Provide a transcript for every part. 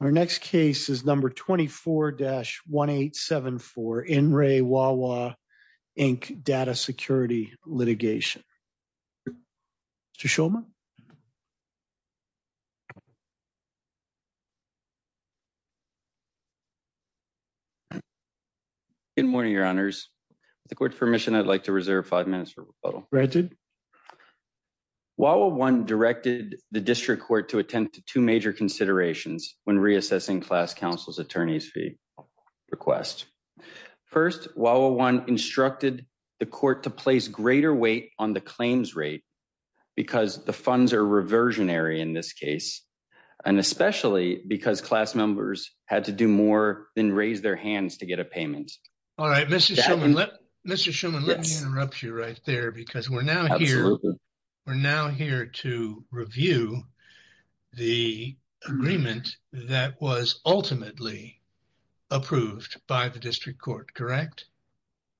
Our next case is number 24-1874, In Re Wawa Inc. Data Security Litigation. Mr. Shulman? Good morning, your honors. With the court's permission, I'd like to reserve five minutes for rebuttal. Wawa I directed the district court to attend to two major considerations when reassessing class counsel's attorney's fee request. First, Wawa I instructed the court to place greater weight on the claims rate because the funds are reversionary in this case, and especially because class members had to do more than raise their hands to get a payment. All right, Mr. Shulman, let me interrupt you right there because we're now here to review the agreement that was ultimately approved by the district court, correct?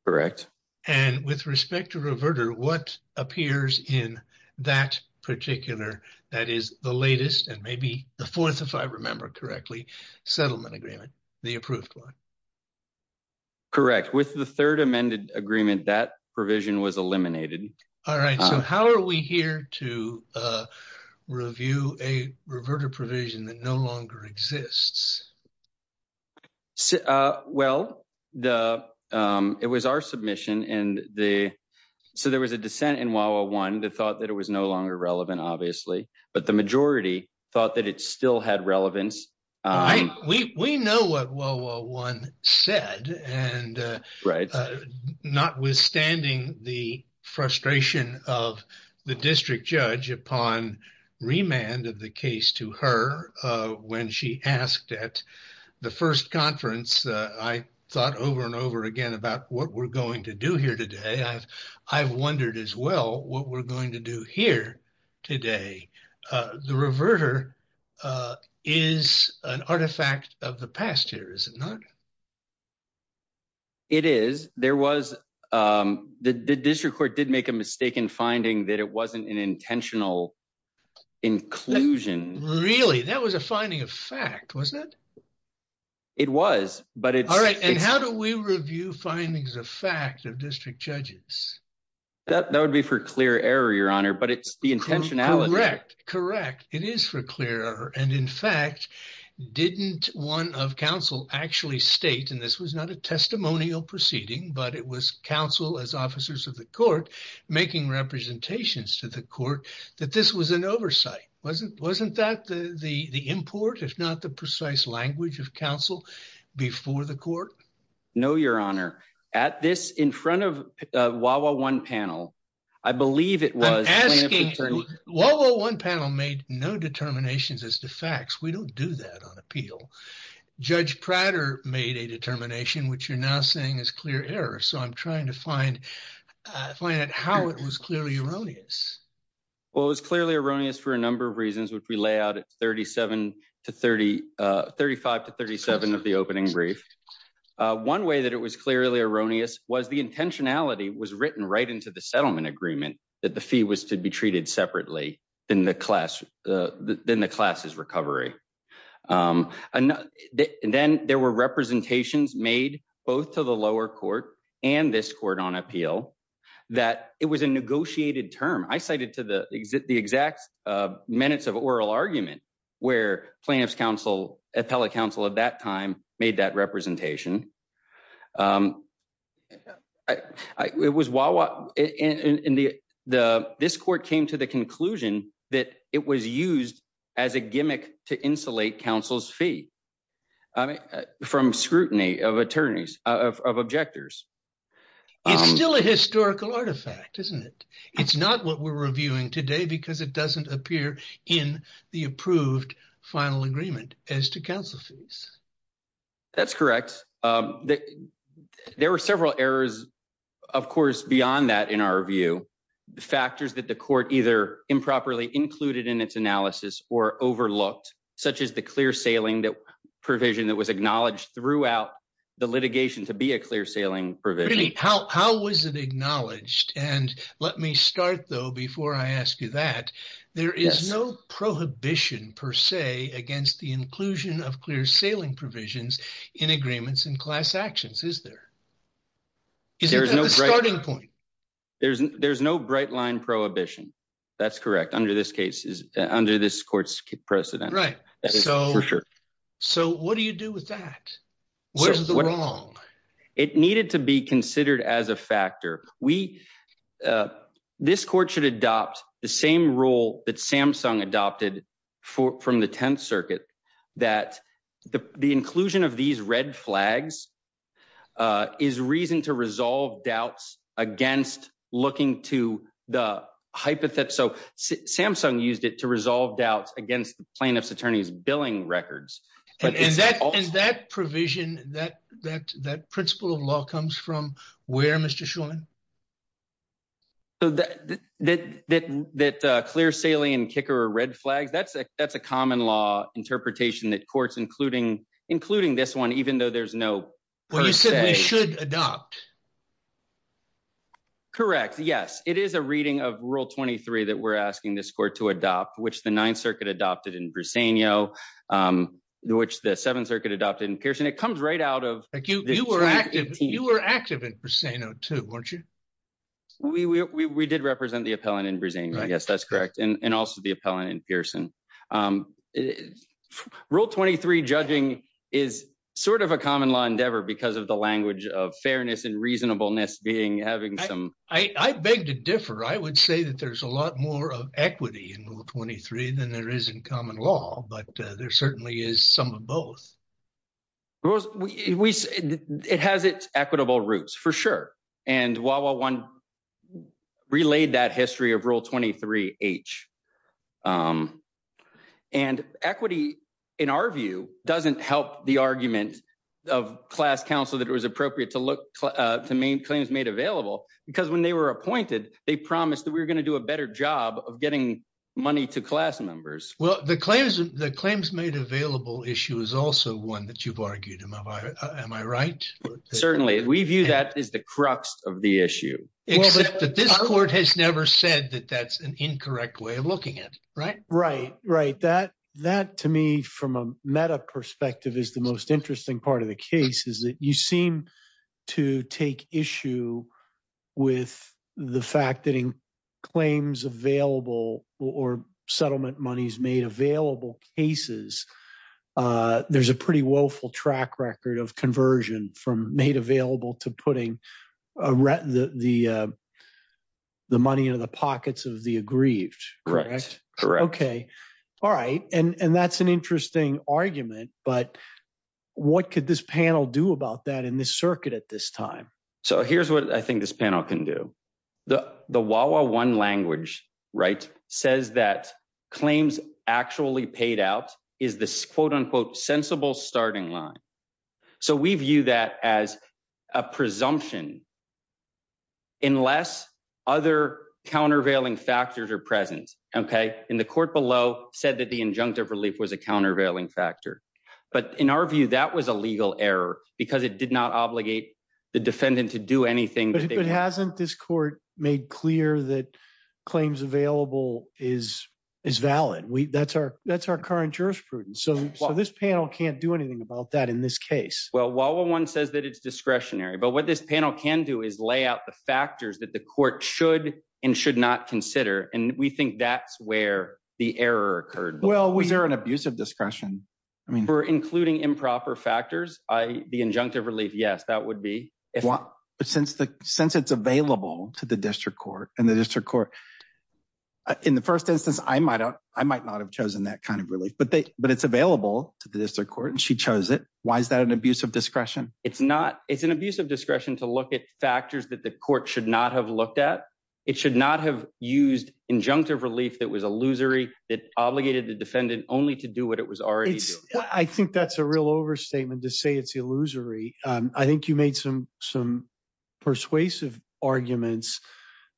Correct. And with respect to Reverter, what appears in that particular, that is the latest and maybe the fourth, if I remember correctly, settlement agreement, the approved one? Correct. With the third amended agreement, that provision was eliminated. All right, so how are we here to review a Reverter provision that no longer exists? Well, it was our submission, and so there was a dissent in Wawa I that thought that it was no longer relevant, obviously, but the majority thought that it still had relevance. We know what Wawa I said, and notwithstanding the frustration of the district judge upon remand of the case to her when she asked at the first conference, I thought over and over again about what we're going to do here today. I've wondered as well what we're going to do here today. The Reverter is an artifact of the past here, is it not? It is. There was, the district court did make a mistaken finding that it wasn't an intentional inclusion. Really? That was a finding of fact, was it? It was. All right, and how do we review findings of fact of district judges? That would be for clear error, Your Honor, but it's the intentionality. Correct, correct. It is for clear error, and in fact, didn't one of counsel actually state, and this was not a testimonial proceeding, but it was counsel as officers of the court making representations to the court that this was an oversight. Wasn't that the import, if not the precise language of counsel before the court? No, Your Honor. At this, in front of Wawa I panel, I believe it was. I'm asking, Wawa I panel made no determinations as to facts. We don't do that on appeal. Judge Prater made a determination, which you're now saying is clear error, so I'm trying to find how it was clearly erroneous. Well, it was clearly erroneous for a number of reasons, which we lay out at thirty-five to thirty-seven of the opening brief. One way that it was clearly erroneous was the intentionality was written right into the settlement agreement that the fee was to be treated separately in the class's recovery. Then there were representations made both to the lower court and this court on appeal that it was a negotiated term. I cited to the exact minutes of oral argument where plaintiff's counsel, appellate counsel at that time, made that representation. It was Wawa, and this court came to the conclusion that it was used as a gimmick to insulate counsel's fee from scrutiny of attorneys, of objectors. It's still a historical artifact, isn't it? It's not what we're reviewing today because it doesn't appear in the approved final agreement as to counsel's fees. That's correct. There were several errors, of course, beyond that, in our view. Factors that the court either improperly included in its analysis or overlooked, such as the clear sailing provision that was acknowledged throughout the litigation to be a clear sailing provision. How was it acknowledged? Let me start, though, before I ask you that. There is no prohibition, per se, against the inclusion of clear sailing provisions in agreements and class actions, is there? There's no bright line prohibition. That's correct, under this court's precedent. For sure. What do you do with that? Where's the wrong? It needed to be considered as a factor. This court should adopt the same rule that Samsung adopted from the Tenth Circuit, that the inclusion of these red flags is reason to resolve doubts against looking to the hypothesis. So Samsung used it to resolve doubts against plaintiff's attorney's billing records. And that provision, that principle of law comes from where, Mr. Shulman? That clear sailing and kicker or red flag, that's a common law interpretation that courts, including this one, even though there's no… Well, you said they should adopt. Correct. Yes, it is a reading of Rule 23 that we're asking this court to adopt, which the Ninth Circuit adopted in Briseno, which the Seventh Circuit adopted in Pearson. It comes right out of… You were active in Briseno, too, weren't you? We did represent the appellant in Briseno. Yes, that's correct. And also the appellant in Pearson. Rule 23 judging is sort of a common law endeavor because of the language of fairness and reasonableness being having some… I beg to differ. I would say that there's a lot more of equity in Rule 23 than there is in common law, but there certainly is some of both. It has its equitable roots, for sure, and Wawa 1 relayed that history of Rule 23H. And equity, in our view, doesn't help the argument of class counsel that it was appropriate to make claims made available because when they were appointed, they promised that we were going to do a better job of getting money to class members. Well, the claims made available issue is also one that you've argued. Am I right? Certainly. We view that as the crux of the issue. But this court has never said that that's an incorrect way of looking at it, right? That, to me, from a meta perspective, is the most interesting part of the case is that you seem to take issue with the fact that in claims available or settlement monies made available cases, there's a pretty woeful track record of conversion from made available to putting the money into the pockets of the aggrieved. Correct. Correct. Okay. All right. And that's an interesting argument, but what could this panel do about that in this circuit at this time? So here's what I think this panel can do. The Wawa 1 language, right, says that claims actually paid out is this, quote, unquote, sensible starting line. So we view that as a presumption, unless other countervailing factors are present. Okay. And the court below said that the injunctive relief was a countervailing factor. But in our view, that was a legal error because it did not obligate the defendant to do anything. But if it hasn't, this court made clear that claims available is valid. That's our current jurisprudence. So this panel can't do anything about that in this case. Well, Wawa 1 says that it's discretionary. But what this panel can do is lay out the factors that the court should and should not consider. And we think that's where the error occurred. Well, we hear an abuse of discretion. For including improper factors, the injunctive relief, yes, that would be. But since it's available to the district court and the district court, in the first instance, I might not have chosen that kind of relief. But it's available to the district court and she chose it. Why is that an abuse of discretion? It's not. It's an abuse of discretion to look at factors that the court should not have looked at. It should not have used injunctive relief that was illusory. It obligated the defendant only to do what it was already doing. I think that's a real overstatement to say it's illusory. I think you made some some persuasive arguments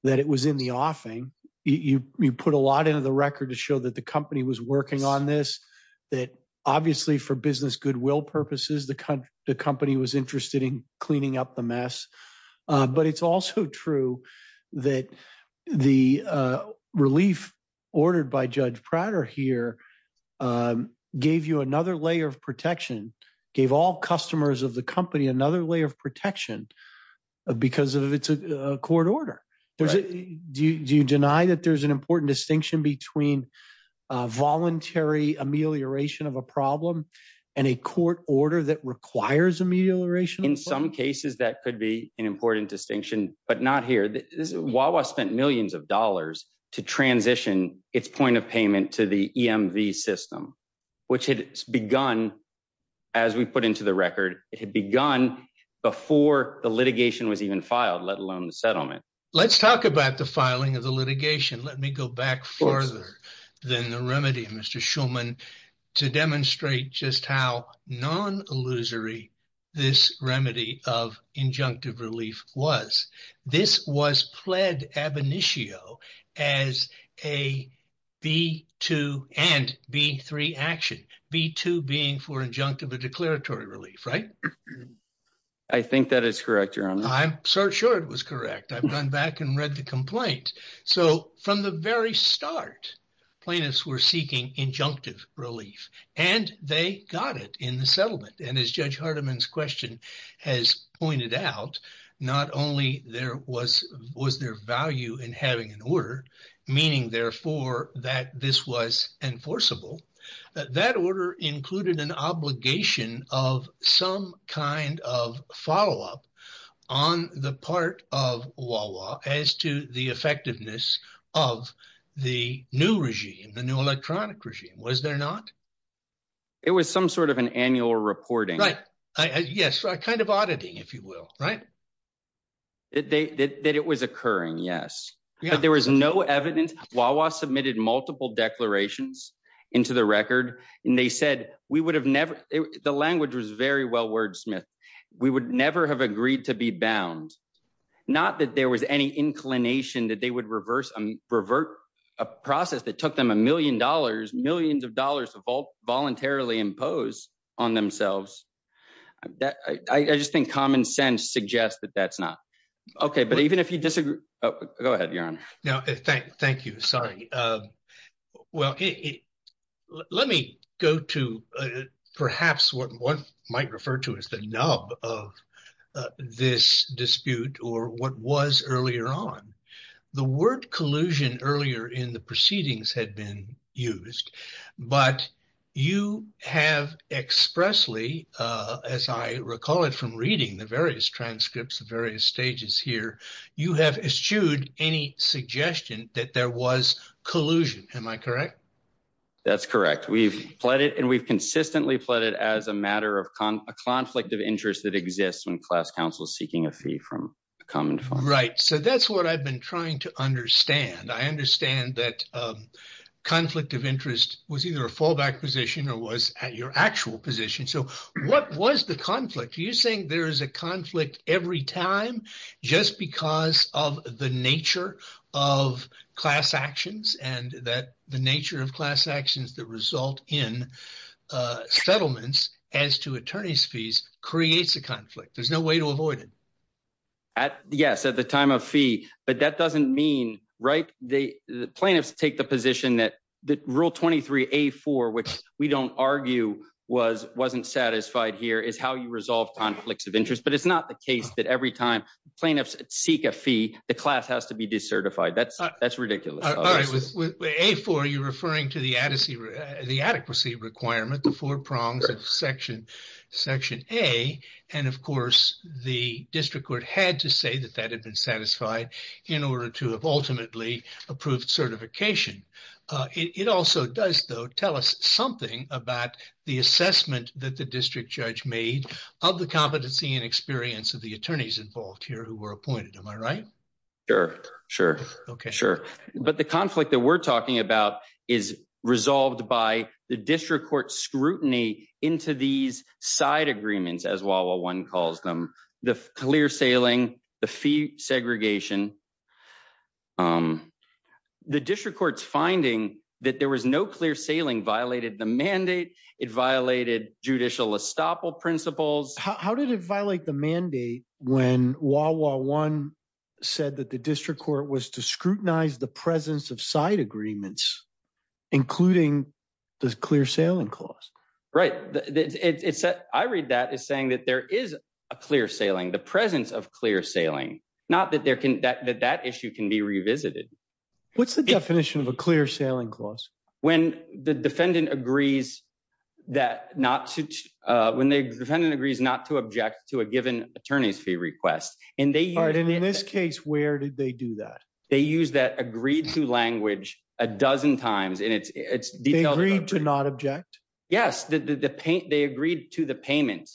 that it was in the offing. You put a lot into the record to show that the company was working on this, that obviously for business goodwill purposes, the company was interested in cleaning up the mess. But it's also true that the relief ordered by Judge Prater here gave you another layer of protection, gave all customers of the company another layer of protection because of its court order. Do you deny that there's an important distinction between voluntary amelioration of a problem and a court order that requires amelioration? In some cases, that could be an important distinction, but not here. Wawa spent millions of dollars to transition its point of payment to the EMV system, which had begun, as we put into the record, it had begun before the litigation was even filed, let alone the settlement. Let's talk about the filing of the litigation. Let me go back further than the remedy, Mr. Shulman, to demonstrate just how non-illusory this remedy of injunctive relief was. This was pled ab initio as a B2 and B3 action, B2 being for injunctive or declaratory relief, right? I think that it's correct, Your Honor. I'm so sure it was correct. I've gone back and read the complaint. So from the very start, plaintiffs were seeking injunctive relief, and they got it in the settlement. And as Judge Hardiman's question has pointed out, not only was there value in having an order, meaning therefore that this was enforceable, that order included an obligation of some kind of follow-up on the part of Wawa as to the effectiveness of the new regime, the new electronic regime, was there not? It was some sort of an annual reporting. Yes, kind of auditing, if you will, right? That it was occurring, yes. But there was no evidence. Wawa submitted multiple declarations into the record, and they said we would have never – the language was very well wordsmithed. We would never have agreed to be bound, not that there was any inclination that they would reverse – revert a process that took them a million dollars, millions of dollars to voluntarily impose on themselves. I just think common sense suggests that that's not – okay, but even if you disagree – oh, go ahead, Your Honor. Thank you. Sorry. Well, let me go to perhaps what one might refer to as the nub of this dispute or what was earlier on. The word collusion earlier in the proceedings had been used, but you have expressly, as I recall it from reading the various transcripts, the various stages here, you have eschewed any suggestion that there was collusion. Am I correct? That's correct. We've consistently fled it as a matter of a conflict of interest that exists when class counsel is seeking a fee from a common fund. Right. So that's what I've been trying to understand. I understand that conflict of interest was either a fallback position or was your actual position. So what was the conflict? Do you think there is a conflict every time just because of the nature of class actions and that the nature of class actions that result in settlements as to attorney's fees creates a conflict? There's no way to avoid it. Yes, at the time of fee. But that doesn't mean right. The plaintiffs take the position that the rule 23A4, which we don't argue was wasn't satisfied here is how you resolve conflicts of interest. But it's not the case that every time plaintiffs seek a fee, the class has to be decertified. That's that's ridiculous. A4, you're referring to the adequacy requirement, the four prongs of Section A. And, of course, the district court had to say that that had been satisfied in order to have ultimately approved certification. It also does, though, tell us something about the assessment that the district judge made of the competency and experience of the attorneys involved here who were appointed. Am I right? Sure. Sure. OK, sure. But the conflict that we're talking about is resolved by the district court scrutiny into these side agreements as well. Well, one calls them the clear sailing, the fee segregation. The district court's finding that there was no clear sailing violated the mandate. It violated judicial estoppel principles. How did it violate the mandate when Wawa One said that the district court was to scrutinize the presence of side agreements, including the clear sailing clause? I read that as saying that there is a clear sailing, the presence of clear sailing, not that that issue can be revisited. What's the definition of a clear sailing clause? When the defendant agrees not to object to a given attorney's fee request. And in this case, where did they do that? They used that agreed to language a dozen times. They agreed to not object? Yes. They agreed to the payment.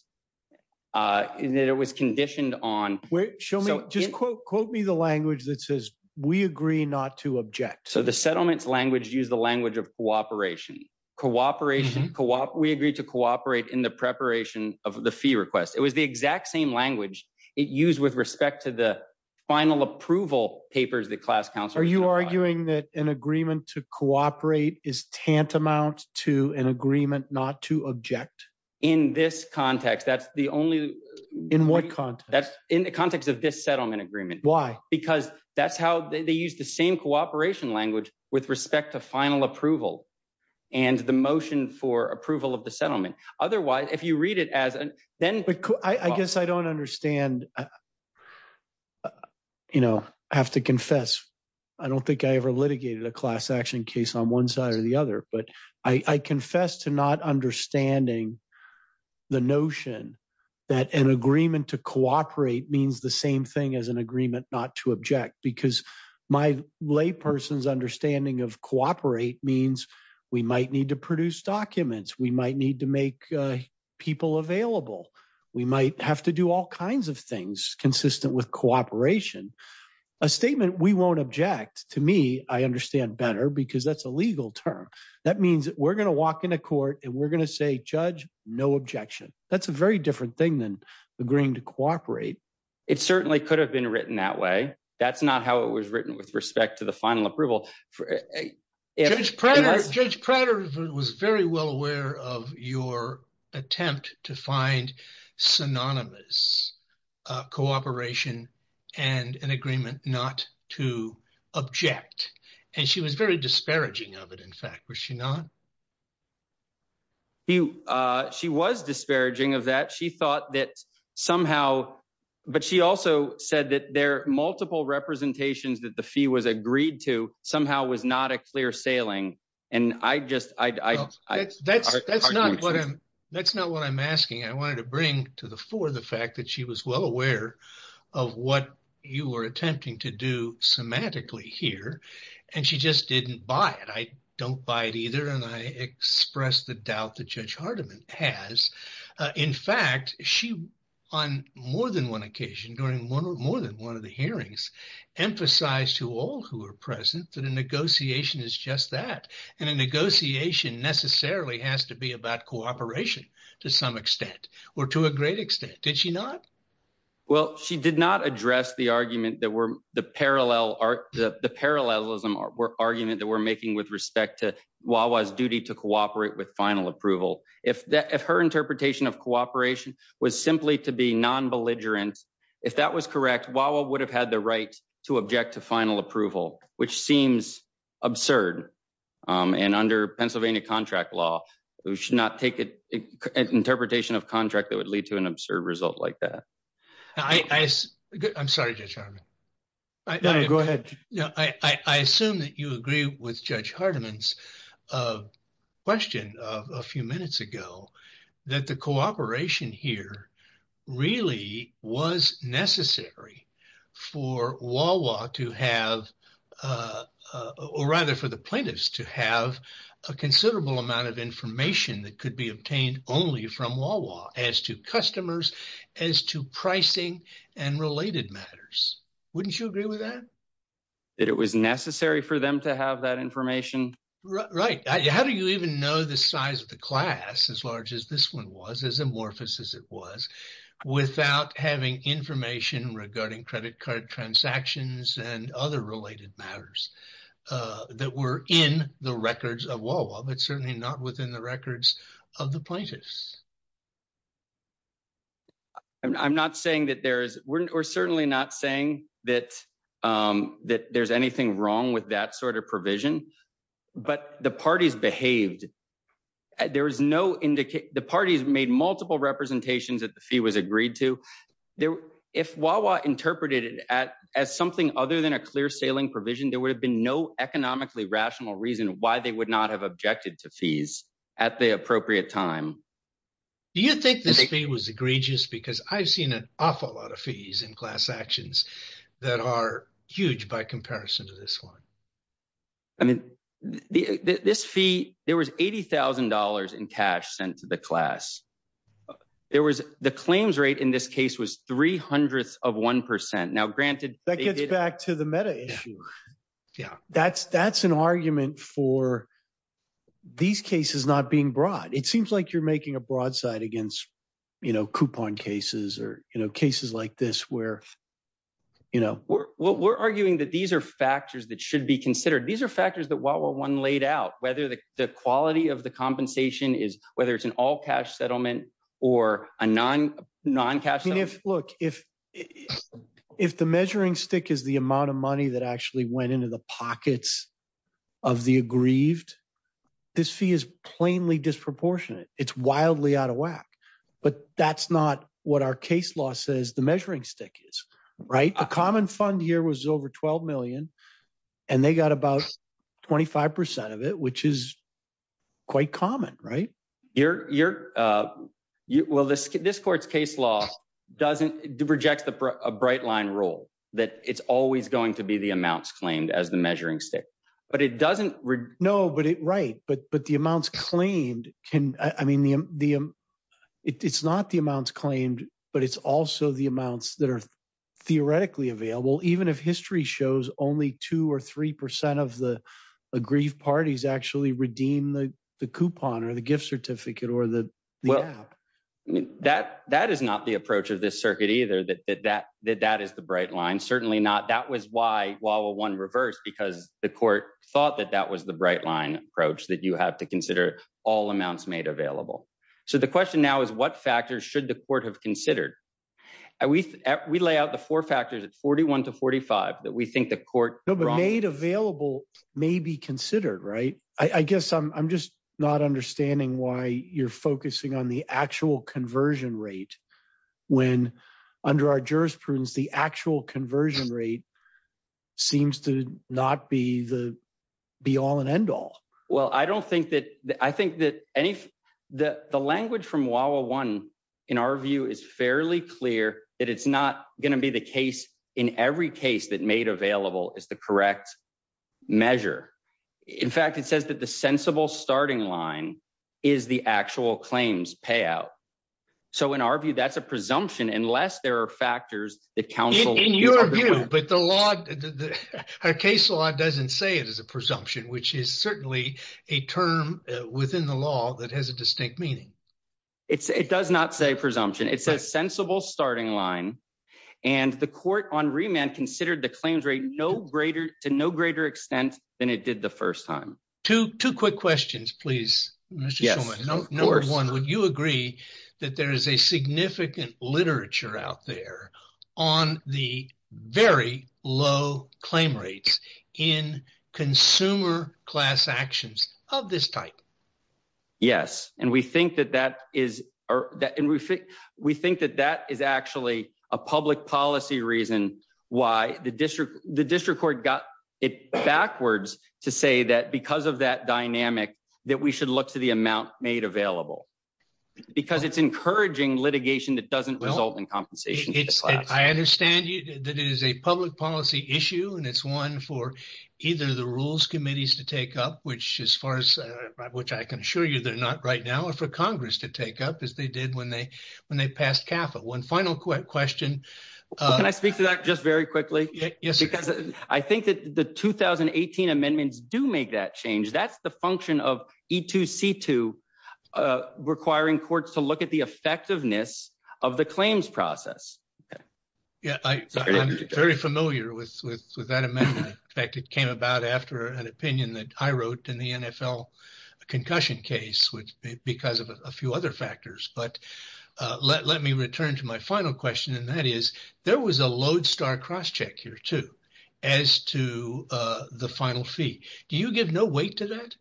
And it was conditioned on. Show me. Quote me the language that says we agree not to object. So the settlement language use the language of cooperation. Cooperate. Cooperate. We agreed to cooperate in the preparation of the fee request. It was the exact same language it used with respect to the final approval papers. The class council. Are you arguing that an agreement to cooperate is tantamount to an agreement not to object in this context? That's the only in what context? That's in the context of this settlement agreement. Why? Because that's how they use the same cooperation language with respect to final approval. And the motion for approval of the settlement. Otherwise, if you read it as then. I guess I don't understand. You know, I have to confess. I don't think I ever litigated a class action case on one side or the other, but I confess to not understanding. The notion that an agreement to cooperate means the same thing as an agreement not to object. Because my lay person's understanding of cooperate means we might need to produce documents. We might need to make people available. We might have to do all kinds of things consistent with cooperation. A statement we won't object to me. I understand better because that's a legal term. That means we're going to walk into court and we're going to say, judge, no objection. That's a very different thing than agreeing to cooperate. It certainly could have been written that way. That's not how it was written with respect to the final approval. Judge Prater was very well aware of your attempt to find synonymous cooperation and an agreement not to object. And she was very disparaging of it, in fact. Was she not? She was disparaging of that. She thought that somehow, but she also said that there are multiple representations that the fee was agreed to somehow was not a clear sailing. And I just ‑‑ That's not what I'm asking. I wanted to bring to the fore the fact that she was well aware of what you were attempting to do semantically here. And she just didn't buy it. I don't buy it either, and I express the doubt that Judge Hardiman has. In fact, she, on more than one occasion, during more than one of the hearings, emphasized to all who were present that a negotiation is just that. And a negotiation necessarily has to be about cooperation to some extent. Or to a great extent. Did she not? Well, she did not address the argument that the parallelism argument that we're making with respect to Wawa's duty to cooperate with final approval. If her interpretation of cooperation was simply to be non‑belligerent, if that was correct, Wawa would have had the right to object to final approval, which seems absurd. And under Pennsylvania contract law, we should not take an interpretation of contract that would lead to an absurd result like that. I'm sorry, Judge Hardiman. Go ahead. I assume that you agree with Judge Hardiman's question a few minutes ago. That the cooperation here really was necessary for Wawa to have, or rather for the plaintiffs to have, a considerable amount of information that could be obtained only from Wawa as to customers, as to pricing, and related matters. Wouldn't you agree with that? That it was necessary for them to have that information? Right. How do you even know the size of the class, as large as this one was, as amorphous as it was, without having information regarding credit card transactions and other related matters that were in the records of Wawa, but certainly not within the records of the plaintiffs? I'm not saying that there's ‑‑ we're certainly not saying that there's anything wrong with that sort of provision, but the parties behaved. There was no indication ‑‑ the parties made multiple representations that the fee was agreed to. If Wawa interpreted it as something other than a clear sailing provision, there would have been no economically rational reason why they would not have objected to fees at the appropriate time. Do you think the fee was egregious? Because I've seen an awful lot of fees in class actions that are huge by comparison to this one. I mean, this fee, there was $80,000 in cash sent to the class. There was ‑‑ the claims rate in this case was three hundredths of one percent. Now, granted ‑‑ That gets back to the meta issue. Yeah. That's an argument for these cases not being brought. It seems like you're making a broadside against, you know, coupon cases or, you know, cases like this where, you know ‑‑ We're arguing that these are factors that should be considered. These are factors that Wawa 1 laid out, whether the quality of the compensation is ‑‑ whether it's an all cash settlement or a non‑cash settlement. Look, if the measuring stick is the amount of money that actually went into the pockets of the aggrieved, this fee is plainly disproportionate. It's wildly out of whack. But that's not what our case law says the measuring stick is, right? A common fund here was over $12 million, and they got about 25 percent of it, which is quite common, right? You're ‑‑ well, this court's case law doesn't ‑‑ rejects a bright line rule that it's always going to be the amounts claimed as the measuring stick. But it doesn't ‑‑ No, but it ‑‑ right. But the amounts claimed can ‑‑ I mean, the ‑‑ it's not the amounts claimed, but it's also the amounts that are theoretically available, even if history shows only 2 or 3 percent of the aggrieved parties actually redeem the coupon or the gift certificate or the ‑‑ Well, that is not the approach of this circuit either, that that is the bright line. And certainly not ‑‑ that was why Wawa 1 reversed, because the court thought that that was the bright line approach, that you have to consider all amounts made available. So the question now is what factors should the court have considered? We lay out the four factors, it's 41 to 45, that we think the court ‑‑ No, but made available may be considered, right? I guess I'm just not understanding why you're focusing on the actual conversion rate, when under our jurisprudence the actual conversion rate seems to not be the be‑all and end‑all. Well, I don't think that ‑‑ I think that any ‑‑ the language from Wawa 1, in our view, is fairly clear that it's not going to be the case in every case that made available is the correct measure. In fact, it says that the sensible starting line is the actual claims payout. So in our view, that's a presumption, unless there are factors that counsel ‑‑ In your view, but the law ‑‑ our case law doesn't say it is a presumption, which is certainly a term within the law that has a distinct meaning. It does not say presumption. It's a sensible starting line. And the court on remand considered the claims rate to no greater extent than it did the first time. Two quick questions, please. Number one, would you agree that there is a significant literature out there on the very low claim rates in consumer class actions of this type? Yes. And we think that that is ‑‑ we think that that is actually a public policy reason why the district court got it backwards to say that because of that dynamic that we should look to the amount made available. Because it's encouraging litigation that doesn't result in compensation. I understand that it is a public policy issue, and it's one for either the rules committees to take up, which as far as ‑‑ which I can assure you they're not right now, or for Congress to take up as they did when they passed CAFA. One final question. Can I speak to that just very quickly? Because I think that the 2018 amendments do make that change. That's the function of E2C2, requiring courts to look at the effectiveness of the claims process. I'm very familiar with that amendment. In fact, it came about after an opinion that I wrote in the NFL concussion case because of a few other factors. But let me return to my final question, and that is, there was a lodestar crosscheck here, too, as to the final fee. Do you give no weight to that?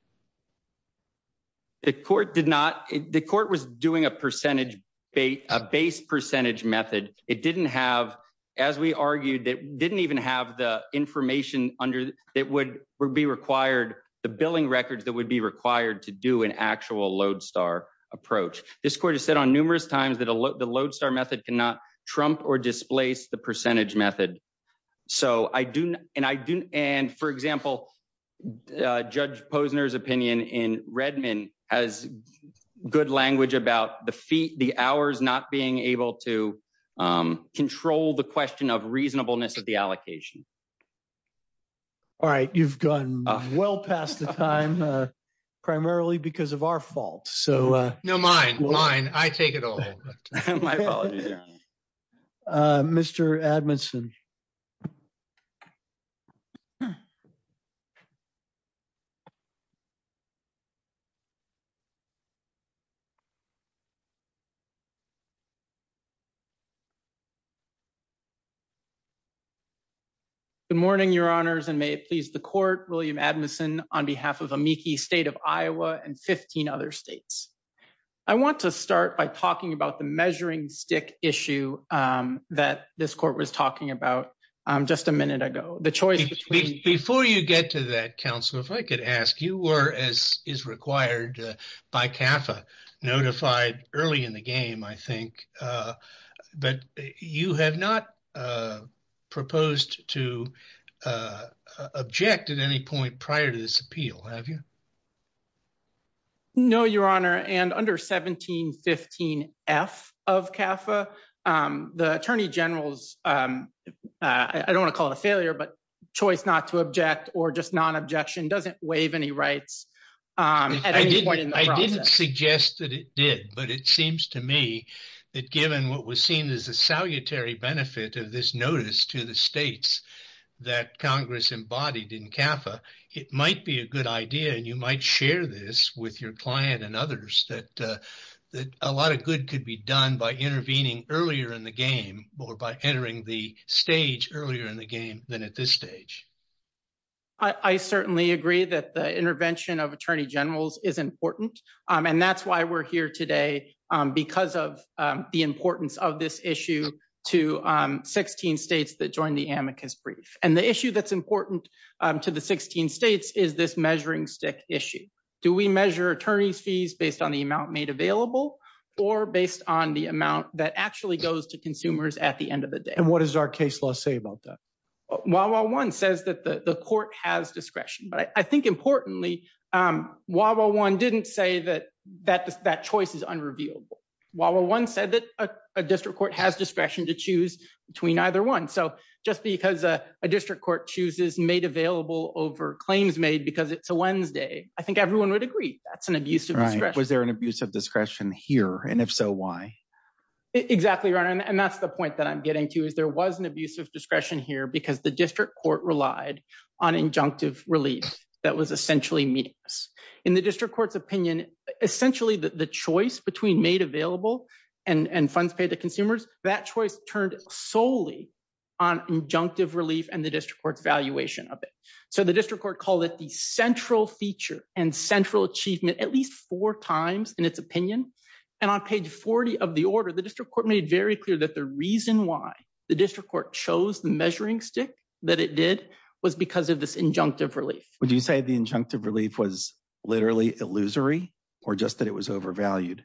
The court did not ‑‑ the court was doing a percentage, a base percentage method. It didn't have ‑‑ as we argued, it didn't even have the information that would be required, the billing records that would be required to do an actual lodestar approach. This court has said on numerous times that the lodestar method cannot trump or displace the percentage method. So I do ‑‑ and I do ‑‑ and, for example, Judge Posner's opinion in Redmond has good language about the hours not being able to control the question of reasonableness of the allocation. All right. You've gone well past the time, primarily because of our fault. No, mine. Mine. I take it all. My apologies. Mr. Admeson. Good morning, Your Honors, and may it please the court, William Admeson on behalf of the Meekie State of Iowa and 15 other states. I want to start by talking about the measuring stick issue that this court was talking about just a minute ago. Before you get to that, counsel, if I could ask, you were, as is required by CAFA, notified early in the game, I think, that you had not proposed to object at any point prior to this appeal, have you? No, Your Honor, and under 1715F of CAFA, the Attorney General's, I don't want to call it a failure, but choice not to object or just nonobjection doesn't waive any rights at any point in the process. I didn't suggest that it did, but it seems to me that given what was seen as a salutary benefit of this notice to the states that Congress embodied in CAFA, it might be a good idea, and you might share this with your client and others, that a lot of good could be done by intervening earlier in the game or by entering the stage earlier in the game than at this stage. I certainly agree that the intervention of Attorney Generals is important, and that's why we're here today, because of the importance of this issue to 16 states that joined the amicus brief. And the issue that's important to the 16 states is this measuring stick issue. Do we measure attorney fees based on the amount made available or based on the amount that actually goes to consumers at the end of the day? And what does our case law say about that? 101 says that the court has discretion, but I think importantly, 101 didn't say that that choice is unrevealable. 101 said that a district court has discretion to choose between either one. So just because a district court chooses made available over claims made because it's a Wednesday, I think everyone would agree that's an abusive discretion. Was there an abusive discretion here, and if so, why? Exactly right, and that's the point that I'm getting to. There was an abusive discretion here because the district court relied on injunctive relief that was essentially meaningless. In the district court's opinion, essentially the choice between made available and funds paid to consumers, that choice turned solely on injunctive relief and the district court's valuation of it. So the district court called it the central feature and central achievement at least four times in its opinion, and on page 40 of the order, the district court made very clear that the reason why the district court chose the measuring stick that it did was because of this injunctive relief. Would you say the injunctive relief was literally illusory or just that it was overvalued?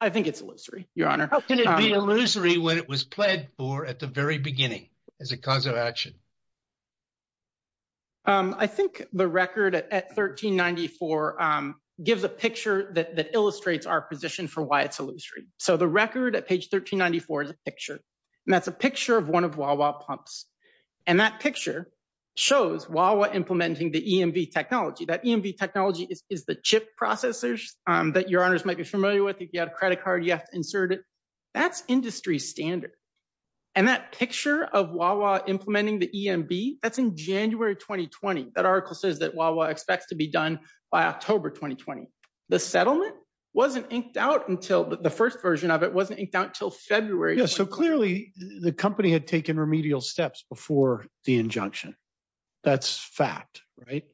I think it's illusory, Your Honor. How can it be illusory when it was pled for at the very beginning as a cause of action? I think the record at 1394 gives a picture that illustrates our position for why it's illusory. So the record at page 1394 is a picture, and that's a picture of one of Wawa pumps, and that picture shows Wawa implementing the EMV technology. That EMV technology is the chip processors that Your Honors might be familiar with. If you have a credit card, you have to insert it. That's industry standard, and that picture of Wawa implementing the EMV, that's in January of 2020. That article says that Wawa expects to be done by October 2020. The settlement wasn't inked out until the first version of it wasn't inked out until February. So clearly the company had taken remedial steps before the injunction. That's fact, right?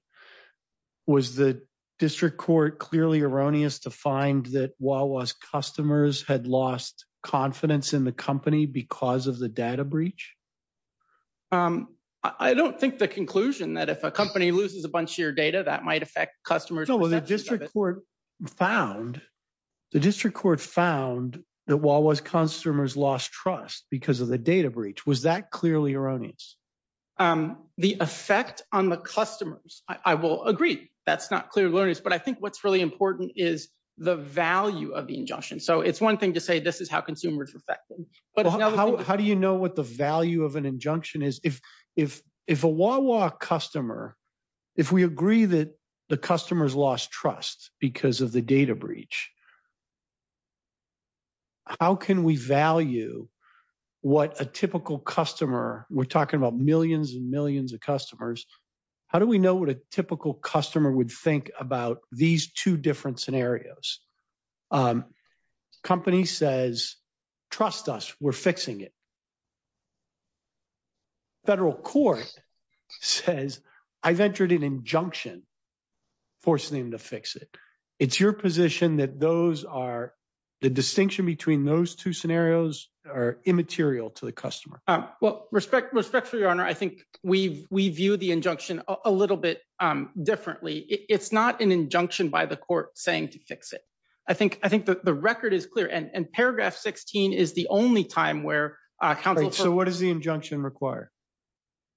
Was the district court clearly erroneous to find that Wawa's customers had lost confidence in the company because of the data breach? I don't think the conclusion that if a company loses a bunch of your data, that might affect customers. The district court found that Wawa's customers lost trust because of the data breach. Was that clearly erroneous? The effect on the customers, I will agree, that's not clearly erroneous, but I think what's really important is the value of the injunction. So it's one thing to say this is how consumers are affected. How do you know what the value of an injunction is? If a Wawa customer, if we agree that the customers lost trust because of the data breach, how can we value what a typical customer, we're talking about millions and millions of customers, how do we know what a typical customer would think about these two different scenarios? Company says, trust us, we're fixing it. Federal court says, I've entered an injunction forcing them to fix it. It's your position that those are, the distinction between those two scenarios are immaterial to the customer. Respectfully, Your Honor, I think we view the injunction a little bit differently. It's not an injunction by the court saying to fix it. I think the record is clear and paragraph 16 is the only time where- So what does the injunction require?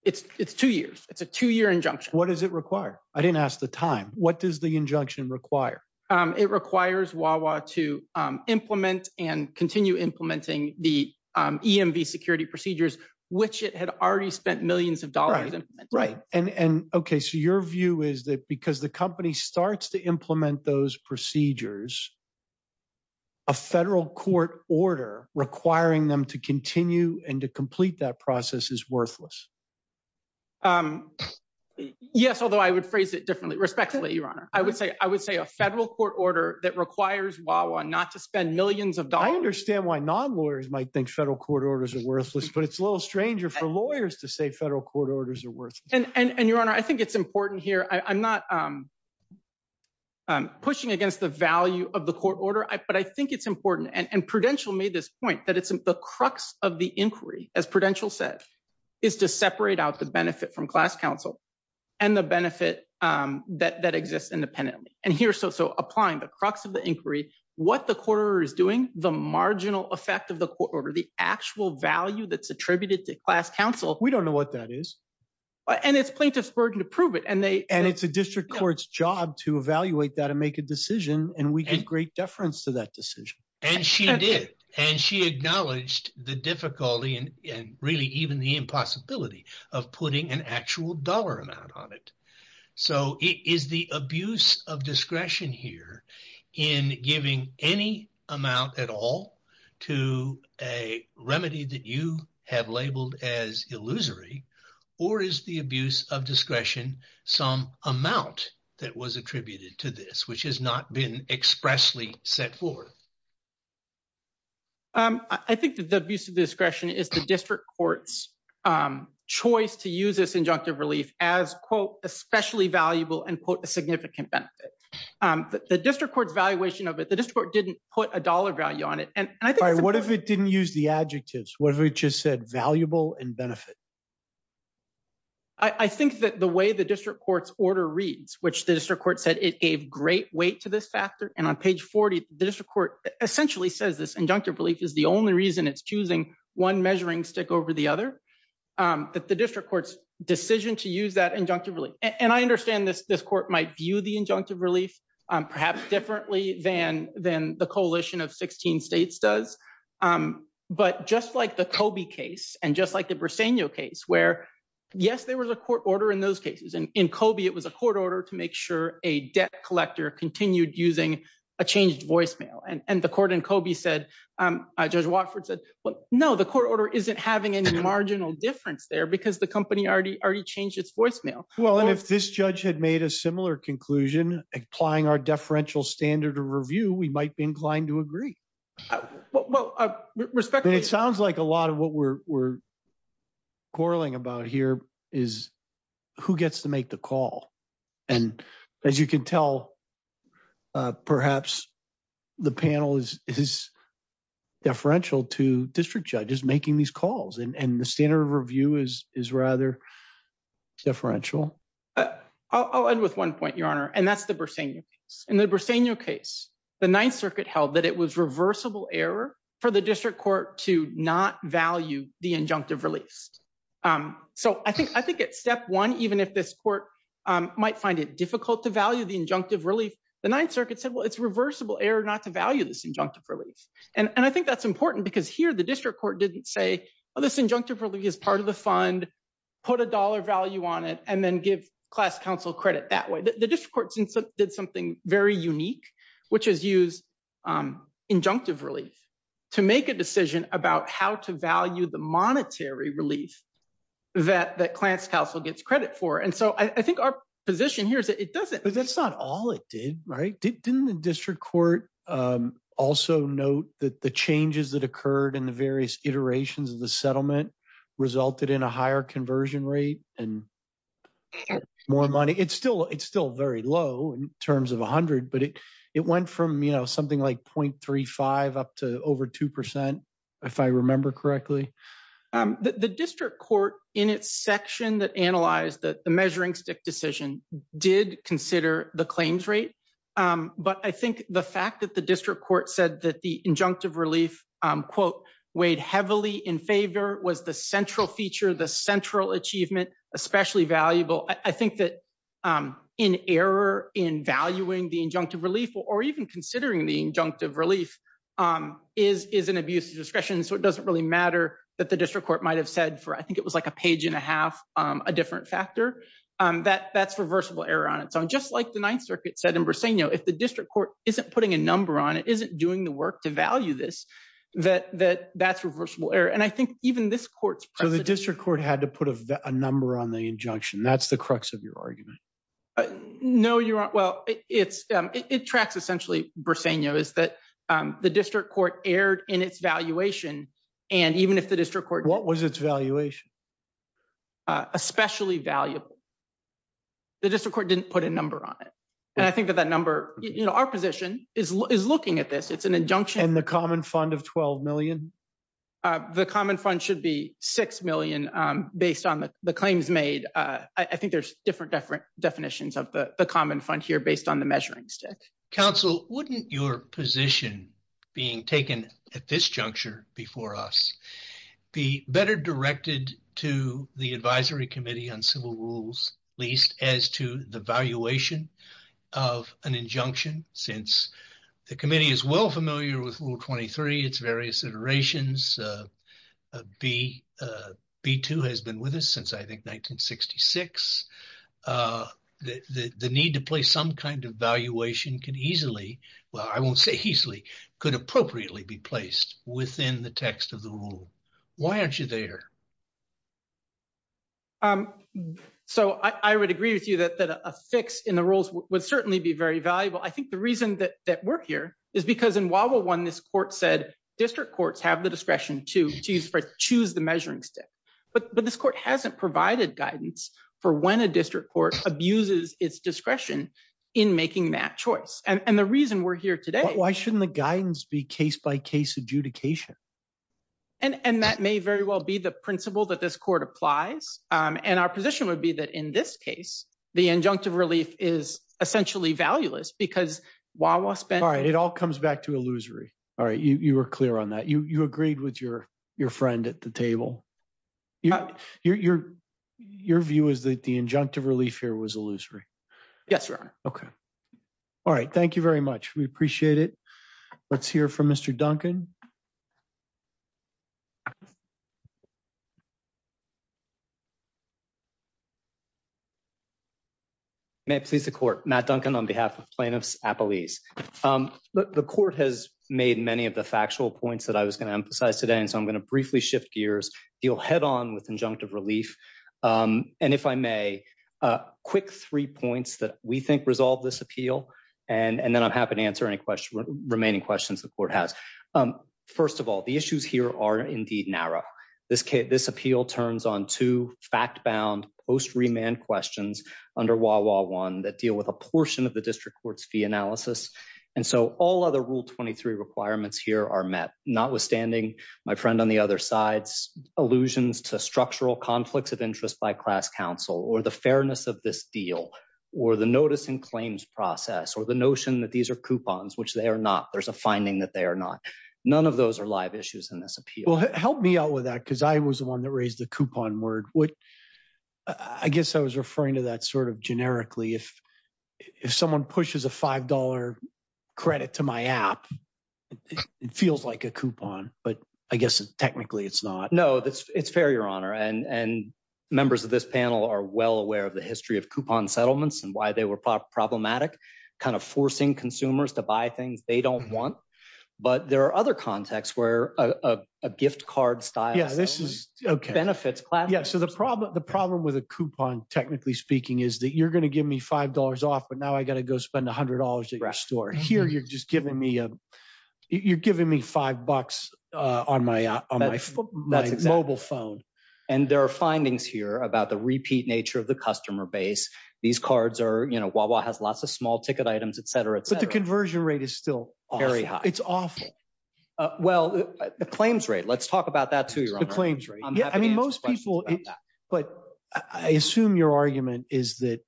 It's two years. It's a two year injunction. What does it require? I didn't ask the time. What does the injunction require? It requires Wawa to implement and continue implementing the EMV security procedures, which it had already spent millions of dollars on. Okay, so your view is that because the company starts to implement those procedures, a federal court order requiring them to continue and to complete that process is worthless. Yes, although I would phrase it differently. Respectfully, Your Honor, I would say a federal court order that requires Wawa not to spend millions of dollars. I understand why non-lawyers might think federal court orders are worthless, but it's a little stranger for lawyers to say federal court orders are And Your Honor, I think it's important here. I'm not pushing against the value of the court order, but I think it's important. And Prudential made this point that it's the crux of the inquiry, as Prudential says, is to separate out the benefit from class counsel and the benefit that exists independently. And here, so applying the crux of the inquiry, what the court order is doing, the marginal effect of the court order, the actual value that's attributed to class counsel. We don't know what that is. And it's plaintiff's burden to prove it. And it's the district court's job to evaluate that and make a decision. And we get great deference to that decision. And she did. And she acknowledged the difficulty and really even the impossibility of putting an actual dollar amount on it. So is the abuse of discretion here in giving any amount at all to a remedy that you have labeled as illusory or is the abuse of discretion some amount that was attributed to this, which has not been expressly set forth? I think that the abuse of discretion is the district court's choice to use this injunctive relief as quote, especially valuable and quote, a significant benefit. The district court valuation of it, the district court didn't put a dollar value on it. What if it didn't use the adjectives? What if it just said valuable and benefit? I think that the way the district court's order reads, which the district court said it gave great weight to this factor. And on page 40, the district court essentially says this injunctive relief is the only reason it's choosing one measuring stick over the other, that the district court's decision to use that injunctive relief. And I understand that this court might view the injunctive relief perhaps differently than, than the coalition of 16 states does. But just like the Kobe case and just like the Briseño case where yes, there was a court order in those cases. And in Kobe it was a court order to make sure a debt collector continued using a changed voicemail. And the court in Kobe said, Judge Watford said, well, no, the court order, isn't having any marginal difference there because the company already, already changed its voicemail. Well, if this judge had made a similar conclusion, applying our deferential standard of review, we might be inclined to agree. It sounds like a lot of what we're quarreling about here is who gets to make the call. And as you can tell, perhaps the panel is, is deferential to district judges making these calls and the standard of review is, is rather deferential. I'll end with one point, Your Honor. And that's the Briseño case. In the Briseño case, the ninth circuit held that it was reversible error for the district court to not value the injunctive relief. So I think, I think at step one, even if this court might find it difficult to value the injunctive relief, the ninth circuit said, well, it's reversible error not to value this injunctive relief. And I think that's important because here the district court didn't say, oh, this injunctive relief is part of the fund, put a dollar value on it, and then give class counsel credit that way. The district court did something very unique, which is use injunctive relief to make a decision about how to value the injunctive relief. And so I think our position here is that it doesn't, it's not all it did, right? Didn't the district court also note that the changes that occurred in the various iterations of the settlement resulted in a higher conversion rate and more money. It's still, it's still very low in terms of a hundred, but it, it went from, you know, something like 0.35 up to over 2%, if I remember correctly. The district court in its section that analyzed that the measuring stick decision did consider the claims rate. But I think the fact that the district court said that the injunctive relief quote weighed heavily in favor was the central feature, the central achievement, especially valuable. I think that in error in valuing the injunctive relief or even considering the injunctive relief is, is an abuse of discretion. So it doesn't really matter that the district court might've said for, I think it was like a page and a half, a different factor, that that's reversible error on it. So I'm just like the ninth circuit said in Briseño, if the district court isn't putting a number on it, isn't doing the work to value this, that, that that's reversible error. And I think even this court. So the district court had to put a number on the injunction. That's the crux of your argument. No, you're not. Well, it's it, it tracks essentially Briseño is that, um, the district court erred in its valuation. And even if the district court, what was its valuation, uh, especially valuable, the district court didn't put a number on it. And I think that that number, you know, our position is, is looking at this. It's an injunction. And the common fund of 12 million. Uh, the common fund should be 6 million. Um, based on the claims made. Uh, I think there's different, different definitions of the common fund here based on the measurements. Council, wouldn't your position being taken at this juncture before us, the better directed to the advisory committee on civil rules, at least as to the valuation of an injunction, since the committee is well familiar with rule 23, it's various iterations. Uh, uh, B, uh, B2 has been with us since I think 1966, uh, the, the, the need to play some kind of valuation can easily, well, I won't say easily could appropriately be placed within the text of the rule. Why aren't you there? Um, so I, I would agree with you that, that a fix in the rules would certainly be very valuable. I think the reason that we're here is because in Wawa one, this court said district courts have the discretion to choose, to choose the measuring stick, but this court hasn't provided guidance for when a district court abuses its discretion in making that choice. And the reason we're here today, why shouldn't the guidance be case by case adjudication? And that may very well be the principle that this court applies. Um, and our position would be that in this case, the injunctive relief is essentially valueless because while we'll spend, it all comes back to illusory. All right. You, you were clear on that. You, you agreed with your, your friend at the table. Yeah. You're, you're, your view is that the injunctive relief here was illusory. Yes, sir. Okay. All right. Thank you very much. We appreciate it. Let's hear from Mr. Duncan. Next piece of court, Matt Duncan, on behalf of plaintiffs at police. Um, the court has made many of the factual points that I was going to emphasize today. And so I'm going to briefly shift gears. He'll head on with injunctive relief. Um, and if I may, uh, quick three points that we think resolved this appeal. And, and then I'm happy to answer any questions, remaining questions the court has. Um, first of all, the issues here are indeed narrow. This case, this appeal turns on to fact bound post remand questions under wall, wall one that deal with a portion of the district court's fee analysis. And so all other rule 23 requirements here are met not withstanding my friend on the other side's allusions to structural conflicts of interest by class council or the fairness of this deal or the noticing claims process or the notion that these are coupons, which they are not, there's a finding that they are not, none of those are live issues in this. Well, help me out with that. Cause I was the one that raised the coupon word. I guess I was referring to that sort of generically. If, if someone pushes a $5 credit to my app, it feels like a coupon, but I guess technically it's not. No, it's, it's fair, your honor. And members of this panel are well aware of the history of coupon settlements and why they were problematic kind of forcing consumers to buy things they don't want. But there are other contexts where, uh, a gift card style. Okay. Benefits. Yeah. So the problem, the problem with a coupon technically speaking is that you're going to give me $5 off, but now I got to go spend a hundred dollars at your store here. You're just giving me a, you're giving me five bucks, uh, on my, on my mobile phone. And there are findings here about the repeat nature of the customer base. These cards are, you know, Wawa has lots of small ticket items, et cetera. But the conversion rate is still very high. It's off. Well, the claims rate, let's talk about that too. Yeah. I mean, most people, but I assume your argument is that,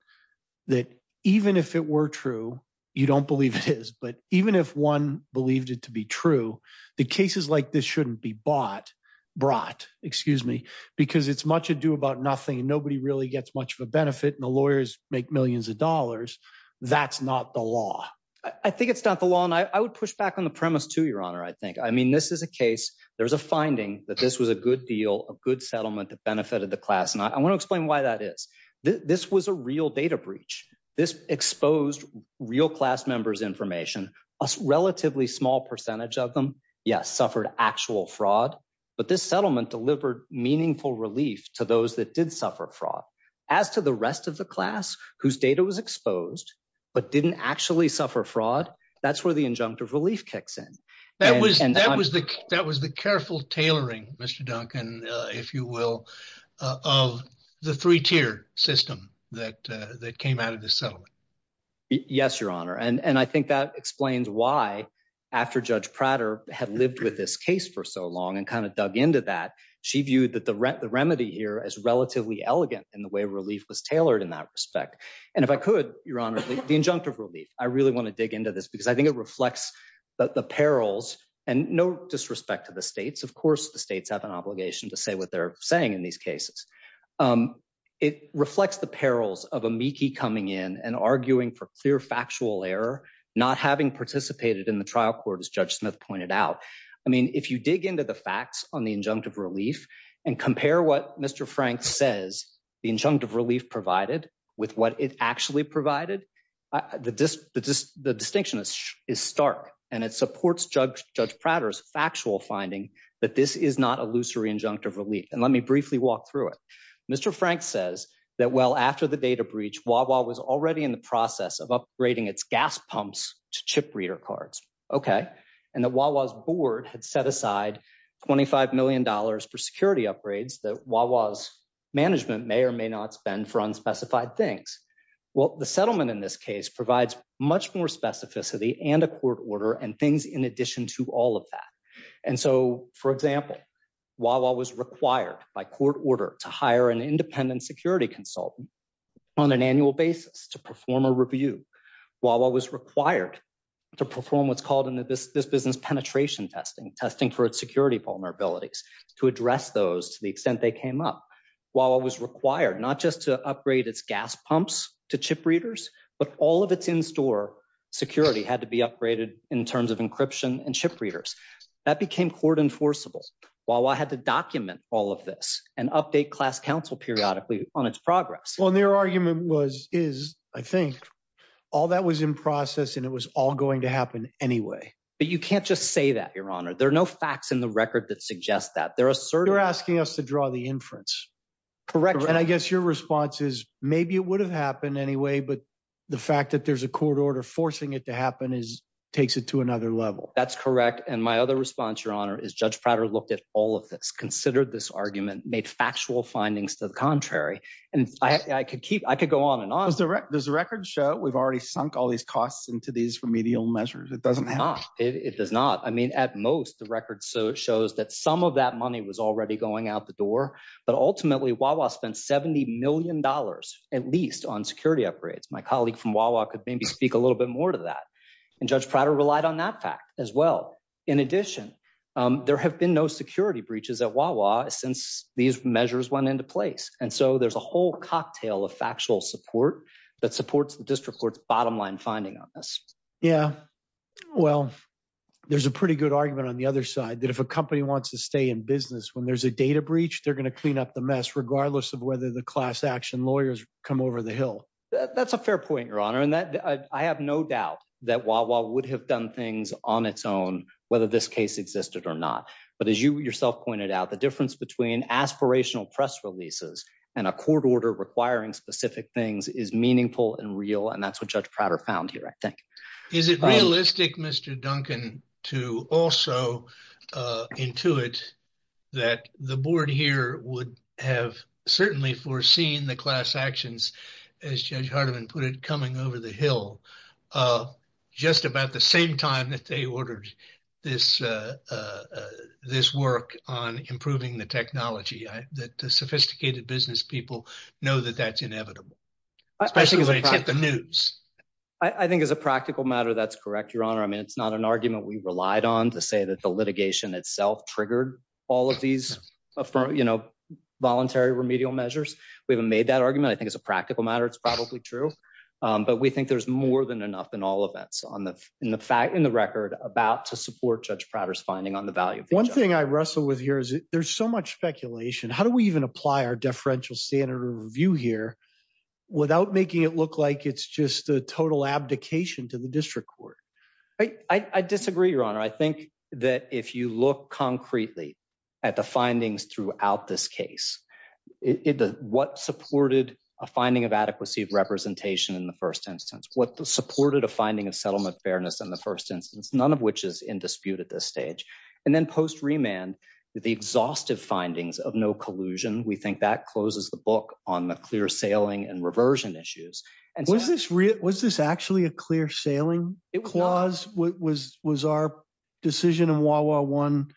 that even if it were true, you don't believe this, but even if one believes it to be true, the cases like this shouldn't be bought, brought, excuse me, because it's much ado about nothing. Nobody really gets much of a benefit and the lawyers make millions of dollars. That's not the law. I think it's not the law. And I would push back on the premise too, your honor. I think, I mean, this is a case, there's a finding that this was a good deal, a good settlement that benefited the class. And I want to explain why that is. This was a real data breach. This exposed real class members information, a relatively small percentage of them. Yes. Suffered actual fraud, but this settlement delivered meaningful relief to those that did suffer fraud as to the rest of the class whose data was exposed, but didn't actually suffer fraud. That's where the injunctive relief kicks in. That was, that was the, that was the careful tailoring, Mr. Duncan, if you will, of the three tier system that, that came out of the settlement. Yes, your honor. And I think that explains why after judge Prater had lived with this case for so long and kind of dug into that, she viewed that the remedy here as relatively elegant in the way relief was tailored in that respect. And if I could, your honor, the injunctive relief, I really want to dig into this because I think it reflects that the perils and no disrespect to the States, of course the States have an obligation to say what they're saying in these cases. It reflects the perils of amici coming in and arguing for clear factual error, not having participated in the trial court as judge Smith pointed out. I mean, if you dig into the facts on the injunctive relief and compare what Mr. Frank says, the injunctive relief provided with what it actually provided, the distinction is stark and it supports judge Prater's actual finding that this is not a loose or injunctive relief. And let me briefly walk through it. Mr. Frank says that, well, after the data breach, Wawa was already in the process of upgrading its gas pumps to chip reader cards. Okay. And the Wawa's board had set aside $25 million for security upgrades that Wawa's management may or may not spend for unspecified things. Well, the settlement in this case provides much more specificity and a court order and things in addition to all of that. And so, for example, Wawa was required by court order to hire an independent security consultant on an annual basis to perform a review. Wawa was required to perform what's called in this business, penetration testing, testing for its security vulnerabilities to address those to the extent they came up. Wawa was required not just to upgrade its gas pumps to chip readers, but all of its in-store security had to be upgraded in terms of encryption and chip readers. That became court enforceable. Wawa had to document all of this and update class council periodically on its progress. Well, their argument was, is I think all that was in process and it was all going to happen anyway. But you can't just say that your honor. There are no facts in the record that suggest that. You're asking us to draw the inference. Correct. And I guess your response is maybe it would have happened anyway, but the fact that there's a court order forcing it to happen is takes it to another level. That's correct. And my other response, your honor, is judge Prater looked at all of this, considered this argument made factual findings to the contrary. And I could keep, I could go on and on. Does the record show we've already sunk all these costs into these remedial measures? It doesn't have. It does not. I mean, At most the record shows that some of that money was already going out the door, but ultimately Wawa spent $70 million at least on security upgrades. My colleague from Wawa could maybe speak a little bit more to that. And judge Prater relied on that fact as well. In addition, there have been no security breaches at Wawa since these measures went into place. And so there's a whole cocktail of factual support that supports the district court's bottom line finding on this. Yeah. Well, There's a pretty good argument on the other side that if a company wants to stay in business, when there's a data breach, they're going to clean up the mess, regardless of whether the class action lawyers come over the hill. That's a fair point, your honor. And that I have no doubt that Wawa would have done things on its own, whether this case existed or not. But as you yourself pointed out the difference between aspirational press releases and a court order requiring specific things is meaningful and real. And that's what judge Prater found here. I think. Is it realistic, Mr. Duncan, to also intuit that the board here would have certainly foreseen the class actions, as Judge Hardiman put it, coming over the hill, just about the same time that they ordered this, this work on improving the technology that the sophisticated business people know that that's inevitable. I think as a practical matter, that's correct, your honor. I mean, it's not an argument we relied on to say that the litigation itself triggered all of these voluntary remedial measures. We haven't made that argument. I think as a practical matter, it's probably true, but we think there's more than enough in all of that. So on the, in the fact, in the record about to support judge Prater's finding on the value. One thing I wrestle with here is there's so much speculation. How do we even apply our differential standard review here? Without making it look like it's just a total abdication to the district court. I disagree, your honor. I think that if you look concretely at the findings throughout this case, what supported a finding of adequacy of representation in the first instance, what supported a finding of settlement fairness in the first instance, none of which is in dispute at this stage. And then post remand the exhaustive findings of no collusion. We think that closes the book on the clear sailing and reversion issues. And was this real, was this actually a clear sailing clause? What was, was our decision in Wawa one.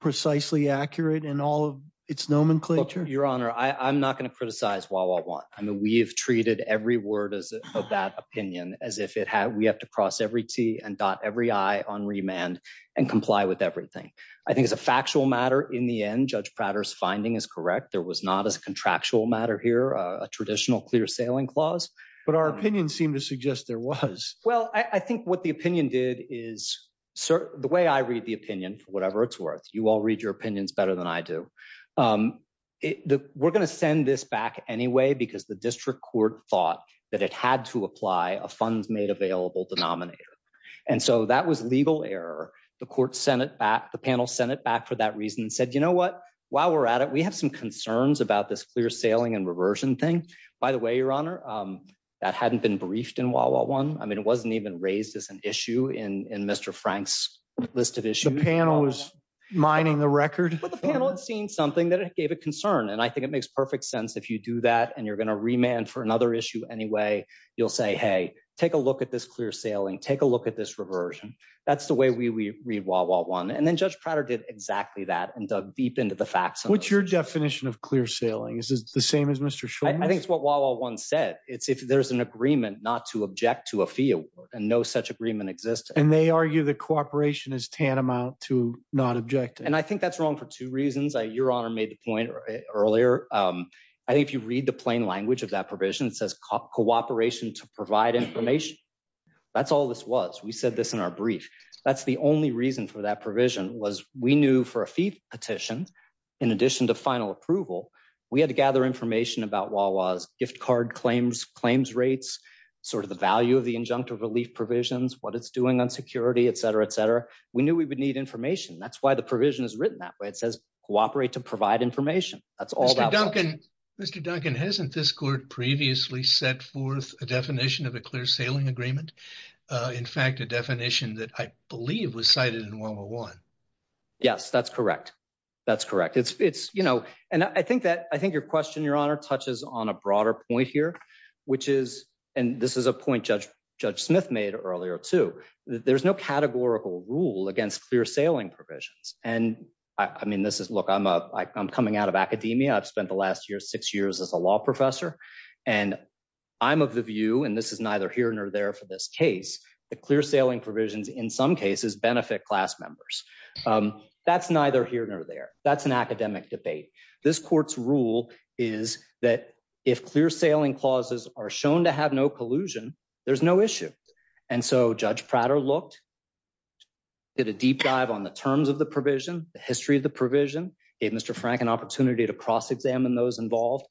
Precisely accurate in all of its nomenclature, your honor. I I'm not going to criticize Wawa one. I mean, we have treated every word of that opinion as if it had, we have to cross every T and dot every I on remand and comply with everything. I think it's a factual matter. In the end, judge Prater's finding is correct. There was not a contractual matter here, a traditional clear sailing clause, but our opinions seem to suggest there was, well, I think what the opinion did is the way I read the opinion, whatever it's worth, you all read your opinions better than I do. We're going to send this back anyway, because the district court thought that it had to apply a funds made available denominator. And so that was legal error. The court Senate back the panel, Senate back for that reason and said, you know what, while we're at it, we have some concerns about this clear sailing and reversion thing, by the way, your honor, that hadn't been briefed in Wawa one. I mean, it wasn't even raised as an issue in, in Mr. Frank's list of issues. The panel was mining the record. The panel had seen something that it gave a concern. And I think it makes perfect sense. If you do that and you're going to remand for another issue anyway, you'll say, Hey, take a look at this clear sailing, take a look at this reversion. That's the way we read Wawa one. And then judge Prater did exactly that. And the deep end of the facts. What's your definition of clear sailing is the same as Mr. I think it's what Wawa one said. It's if there's an agreement not to object to a field and no such agreement exists. And they argue that cooperation is tantamount to not object. And I think that's wrong for two reasons. I, your honor made the point. Earlier. I think if you read the plain language of that provision says cop cooperation to provide information. That's all this was, we said this in our brief, that's the only reason for that provision was we knew for a fee petition. In addition to final approval, we had to gather information about Wawa gift card claims claims rates, sort of the value of the injunctive relief provisions, what it's doing on security, et cetera, et cetera. We knew we would need information. That's why the provision is written that way. It says cooperate to provide information. That's all. Mr. Duncan hasn't this court previously set forth a definition of a clear sailing agreement. In fact, the definition that I believe was cited in one-on-one. Yes, that's correct. That's correct. It's it's, you know, and I think that, I think your question, your honor touches on a broader point here, which is, and this is a point. Judge judge Smith made earlier too. There's no categorical rule against clear sailing provisions. And I mean, this is look, I'm a, I'm coming out of academia. I've spent the last year, six years as a law professor. And I'm of the view, and this is neither here nor there for this case, the clear sailing provisions in some cases benefit class members. That's neither here nor there. That's an academic debate. This court's rule is that if clear sailing clauses are shown to have no collusion, there's no issue. And so judge Prater looked. Did a deep dive on the terms of the provision, the history of the provision gave Mr. Frank an opportunity to cross-examine those involved.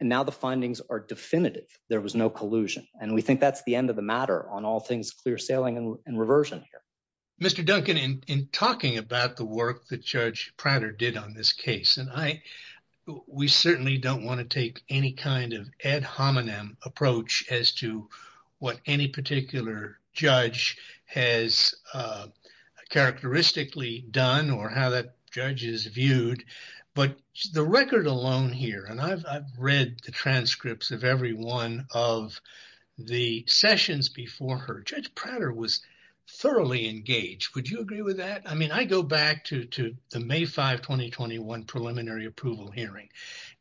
And now the findings are definitive. There was no collusion. And we think that's the end of the matter on all things, clear sailing and reversion here. Mr. Duncan in talking about the work that judge Prater did on this case. And I, we certainly don't want to take any kind of ad hominem approach as to what any particular judge has characteristically done or how that judge is viewed, but the record alone here. And I've read the transcripts of every one of the sessions before her. Judge Prater was thoroughly engaged. Would you agree with that? I mean, I go back to, to the May 5, 2021 preliminary approval hearing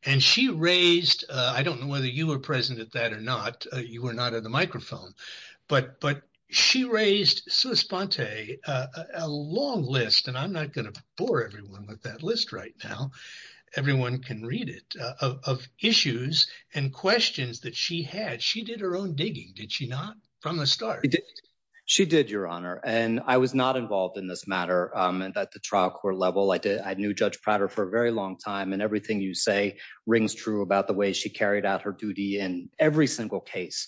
and she raised, I don't know whether you were present at that or not. You were not at the microphone, but, but she raised a long list and I'm not going to bore everyone with that list right now. Everyone can read it. She raised a long list of issues and questions that she had. She did her own digging. Did she not from the start? She did your honor. And I was not involved in this matter. And that the trial court level, I did. I knew judge Prater for a very long time and everything you say rings true about the way she carried out her duty in every single case.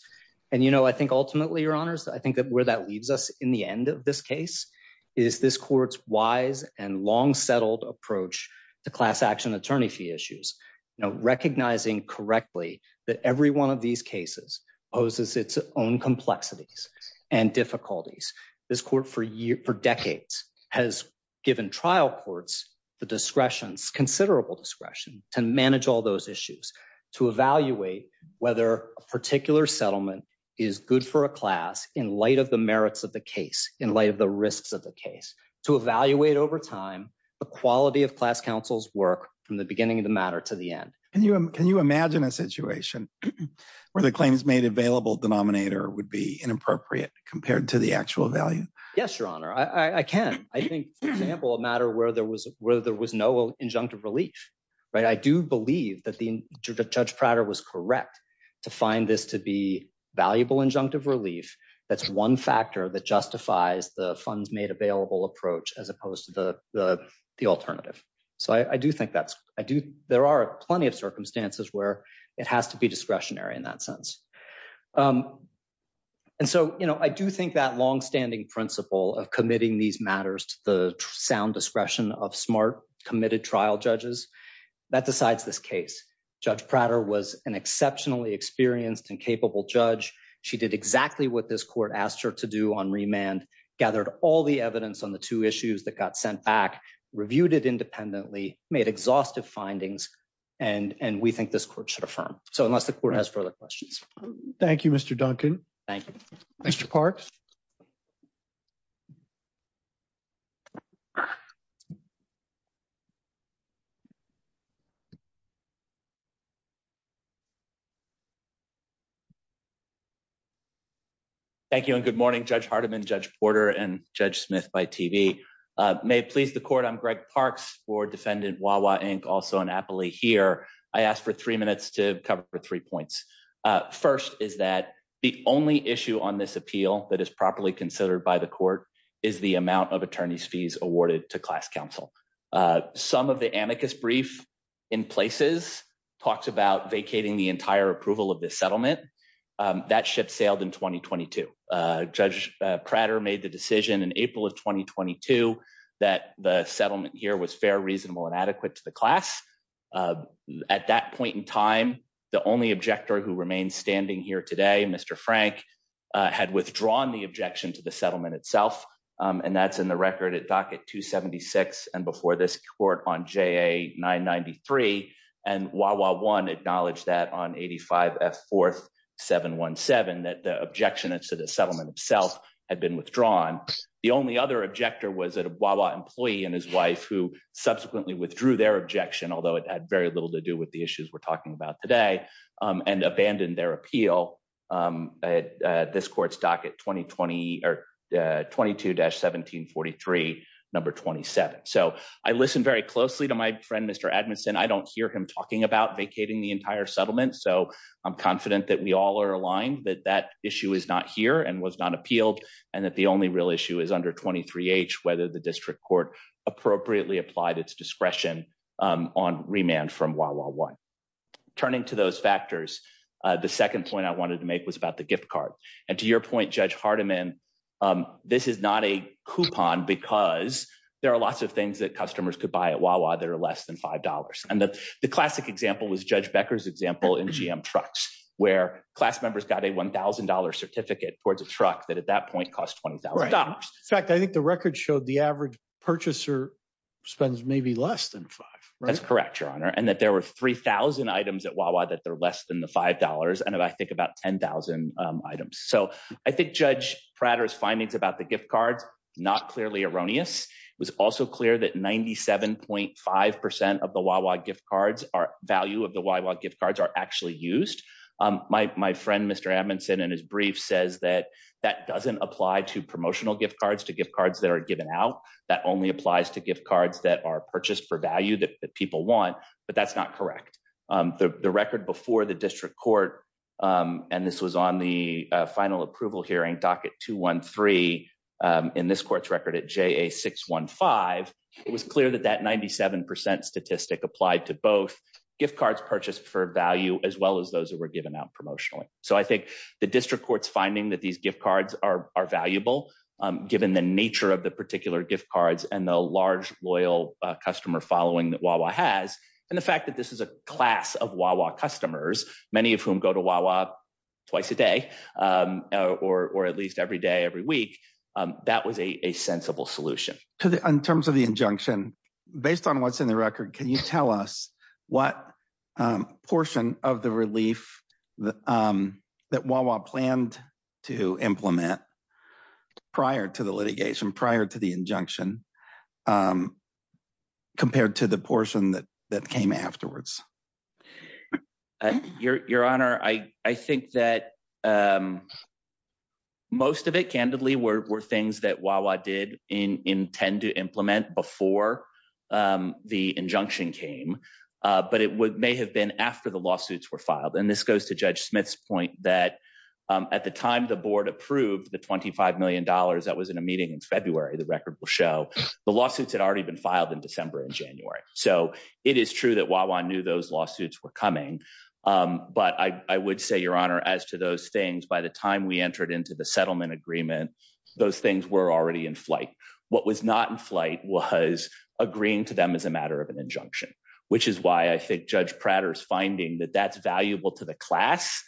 And, you know, I think ultimately your honors, I think that where that leaves us in the end of this case is this court's wise and long settled approach to class action, attorney fee issues, you know, recognizing correctly that every one of these cases poses its own complexities and difficulties. This court for years for decades has given trial courts, the discretion's considerable discretion to manage all those issues, to evaluate whether a particular settlement is good for a class in light of the merits of the case, in light of the risks of the case, to evaluate over time, the quality of class counsel's work from the beginning of the matter to the end. Can you, can you imagine a situation where the claims made available denominator would be inappropriate compared to the actual value? Yes, your honor. I can. I think for example, a matter where there was, where there was no injunctive relief, right? I do believe that the judge Prater was correct to find this to be valuable injunctive relief. That's one factor that justifies the funds made available approach as opposed to the, the, the alternative. So I do think that's, I do, there are plenty of circumstances where it has to be discretionary in that sense. And so, you know, I do think that longstanding principle of committing these matters to the sound discretion of smart committed trial judges that decides this case. Judge Prater was an exceptionally experienced and capable judge. She did exactly what this court asked her to do on remand gathered all the evidence on the two issues that got sent back, reviewed it independently, made exhaustive findings. And, and we think this court should affirm. So unless the court has further questions. Thank you, Mr. Duncan. Thank you. Mr. Parks. Thank you. And good morning, judge Hardiman, judge Porter and judge Smith by TV. May it please the court. I'm Greg parks for defendant. Wawa Inc. Also an Appley here. I asked for three minutes to cover for three points. First is that the only issue on this appeal that is properly considered by the court is the amount of attorney's fees awarded to class council. Some of the amicus brief in places talks about vacating the entire approval of the settlement. That should failed in 2022. Judge Prater made the decision in April of 2022, that the settlement here was fair, reasonable, and adequate to the class. At that point in time, the only objector who remains standing here today, Mr. Frank had withdrawn the objection to the settlement itself. And that's in the record at docket two 76. And before this court on JA nine 93, and Wawa one acknowledged that on 85 F fourth seven one seven, that the objection to the settlement itself had been withdrawn. The only other objector was that a Wawa employee and his wife who subsequently withdrew their objection, although it had very little to do with the issues we're talking about today and abandoned their appeal. At this court stock at 2020 or 22 dash 1743. Number 27. So I listened very closely to my friend, Mr. Magnuson. I don't hear him talking about vacating the entire settlement. So I'm confident that we all are aligned, that that issue is not here and was not appealed. And that the only real issue is under 23 H, whether the district court appropriately applied its discretion on remand from Wawa one turning to those factors. The second point I wanted to make was about the gift card. And to your point, judge Hardiman, this is not a coupon because there are lots of things that customers could buy at Wawa that are less than $5. And that the classic example was judge Becker's example in GM trucks, where class members got a $1,000 certificate towards a truck that at that point costs $20. In fact, I think the record showed the average purchaser spends maybe less than five. That's correct. Your honor. And that there were 3000 items at Wawa that they're less than the $5. And I think about 10,000 items. So I think judge Prater's findings about the gift card, not clearly erroneous. It was also clear that 97.5% of the Wawa gift cards are value of the Wawa gift cards are actually used. My, my friend, Mr. Amundson and his brief says that that doesn't apply to promotional gift cards, to give cards that are given out. That only applies to gift cards that are purchased for value that people want, but that's not correct. The record before the district court, and this was on the final approval hearing docket two one three in this case, the district court's record at J a six one five, it was clear that that 97% statistic applied to both gift cards purchased for value as well as those that were given out promotionally. So I think the district court's finding that these gift cards are, are valuable given the nature of the particular gift cards and the large loyal customer following that Wawa has. And the fact that this is a class of Wawa customers, many of whom go to Wawa twice a day or, or at least every day, every week. That was a sensible solution to the, in terms of the injunction. Based on what's in the record. Can you tell us what. Portion of the relief. That Wawa planned to implement. Prior to the litigation prior to the injunction. Compared to the portion that, that came afterwards. Your, your honor. I, I think that. Most of it candidly were, were things that while I did in intend to implement before the injunction came. But it would may have been after the lawsuits were filed. And this goes to judge Smith's point that at the time, the board approved the $25 million that was in a meeting in February, the record will show the lawsuits had already been filed in December and January. So it is true that while I knew those lawsuits were coming. I knew that they were coming. I knew that they were coming. But I, I would say your honor, as to those things, by the time we entered into the settlement agreement, Those things were already in flight. What was not in flight was agreeing to them as a matter of an injunction. Which is why I think judge Prater's finding that that's valuable to the class.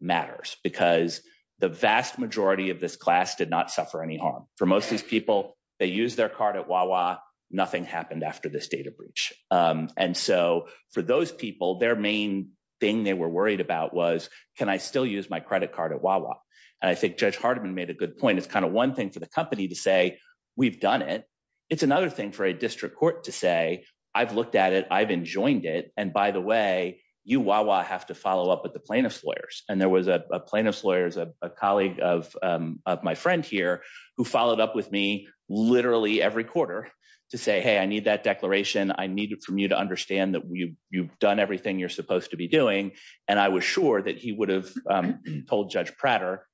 Matters because the vast majority of this class did not suffer any harm for most of these people. They use their card at Wawa. Nothing happened after this data breach. And so for those people, their main thing they were worried about was can I still use my credit card at Wawa? And I think judge Hardiman made a good point. It's kind of one thing for the company to say, we've done it. It's another thing for a district court to say, I've looked at it. I've enjoined it. And by the way, you Wawa have to follow up with the plaintiff's lawyers. And there was a plaintiff's lawyers, a colleague of, of my friend here. Who followed up with me literally every quarter to say, Hey, I need that declaration. I need it from you to understand that we you've done everything you're supposed to be doing. And I was sure that he would have told judge Prater.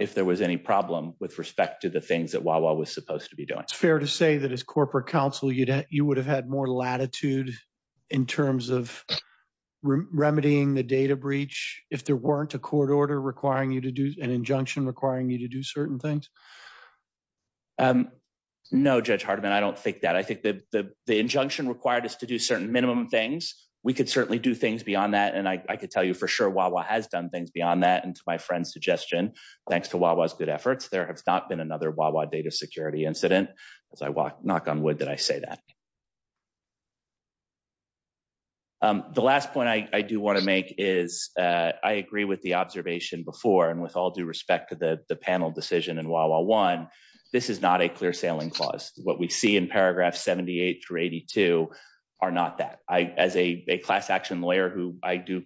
If there was any problem with respect to the things that Wawa was supposed to be doing. It's fair to say that as corporate counsel, you'd have, you would have had more latitude. In terms of. Remedying the data breach. If there weren't a court order requiring you to do an injunction requiring you to do certain things. No judge Hardiman. I don't think that. I think the, the, the injunction required us to do certain minimum things. We could certainly do things beyond that. And I could tell you for sure. Wawa has done things beyond that. And it's my friend's suggestion. Thanks to Wawa's good efforts. There have not been another Wawa data security incident. As I walk, knock on wood, that I say that. The last point I do want to make is I agree with the observation before and with all due respect to the panel decision and Wawa one, this is not a clear sailing clause. This is not a clear sailing clause. The clear sailing clause is that what we see in paragraph 78 through 82. Are not that I, as a, a class action lawyer who I do.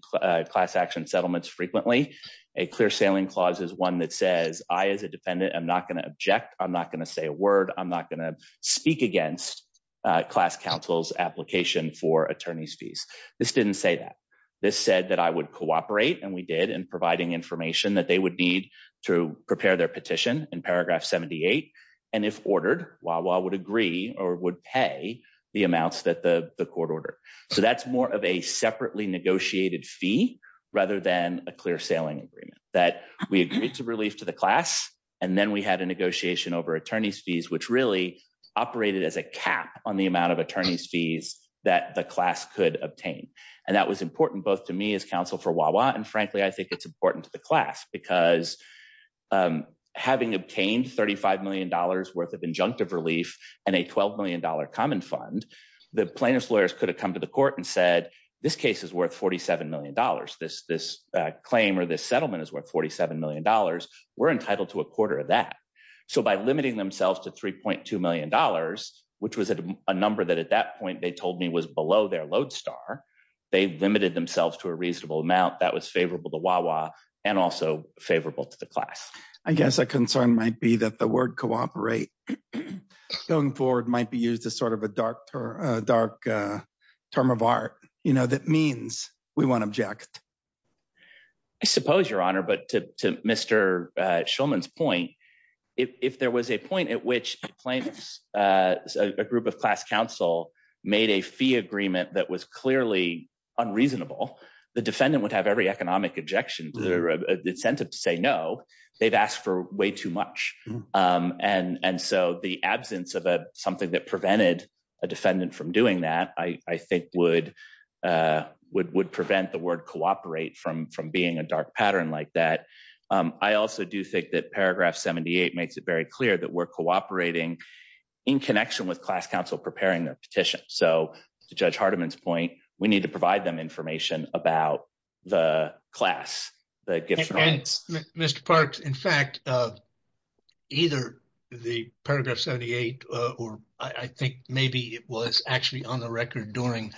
Class action settlements frequently. A clear sailing clause is one that says I, as a dependent, I'm not going to object. I'm not going to say a word. I'm not going to speak against. Class councils application for attorneys fees. This didn't say that. This said that I would cooperate. And we did in providing information that they would need. To prepare their petition in paragraph 78. And if ordered while I would agree or would pay. The amounts that the court order. So that's more of a separately negotiated fee. Rather than a clear sailing agreement that we agreed to release to the class. And then we had a negotiation over attorney's fees, which really operated as a cap on the amount of attorney's fees. That the class could obtain. And that was important both to me as counsel for Wawa. And frankly, I think it's important to the class because. Having obtained $35 million worth of injunctive relief. And a $12 million common fund. The plaintiff's lawyers could have come to the court and said, this case is worth $47 million. This, this claim or this settlement is worth $47 million. We're entitled to a quarter of that. So by limiting themselves to $3.2 million, which was a number that at that point, They told me was below their lodestar. They limited themselves to a reasonable amount that was favorable to Wawa. And also favorable to the class. I guess the concern might be that the word cooperate. Stone forward might be used as sort of a dark. Dark. Term of art. You know, that means we want to object. I suppose your honor, but to Mr. Shulman's point. I mean, I think that's a good point. If there was a point at which the claim. A group of class counsel made a fee agreement that was clearly unreasonable. The defendant would have every economic objection. They're a. They've asked for way too much. and so the absence of something that prevented a defendant from doing that, I think would. Would prevent the word cooperate from, from being a dark pattern like that. I also do think that paragraph 78 makes it very clear that we're cooperating. In connection with class counsel, preparing their petition. So to judge Hardiman's point, we need to provide them information about the class. Mr. Parks. In fact, either. The paragraph 78, or I think maybe it was actually on the record. During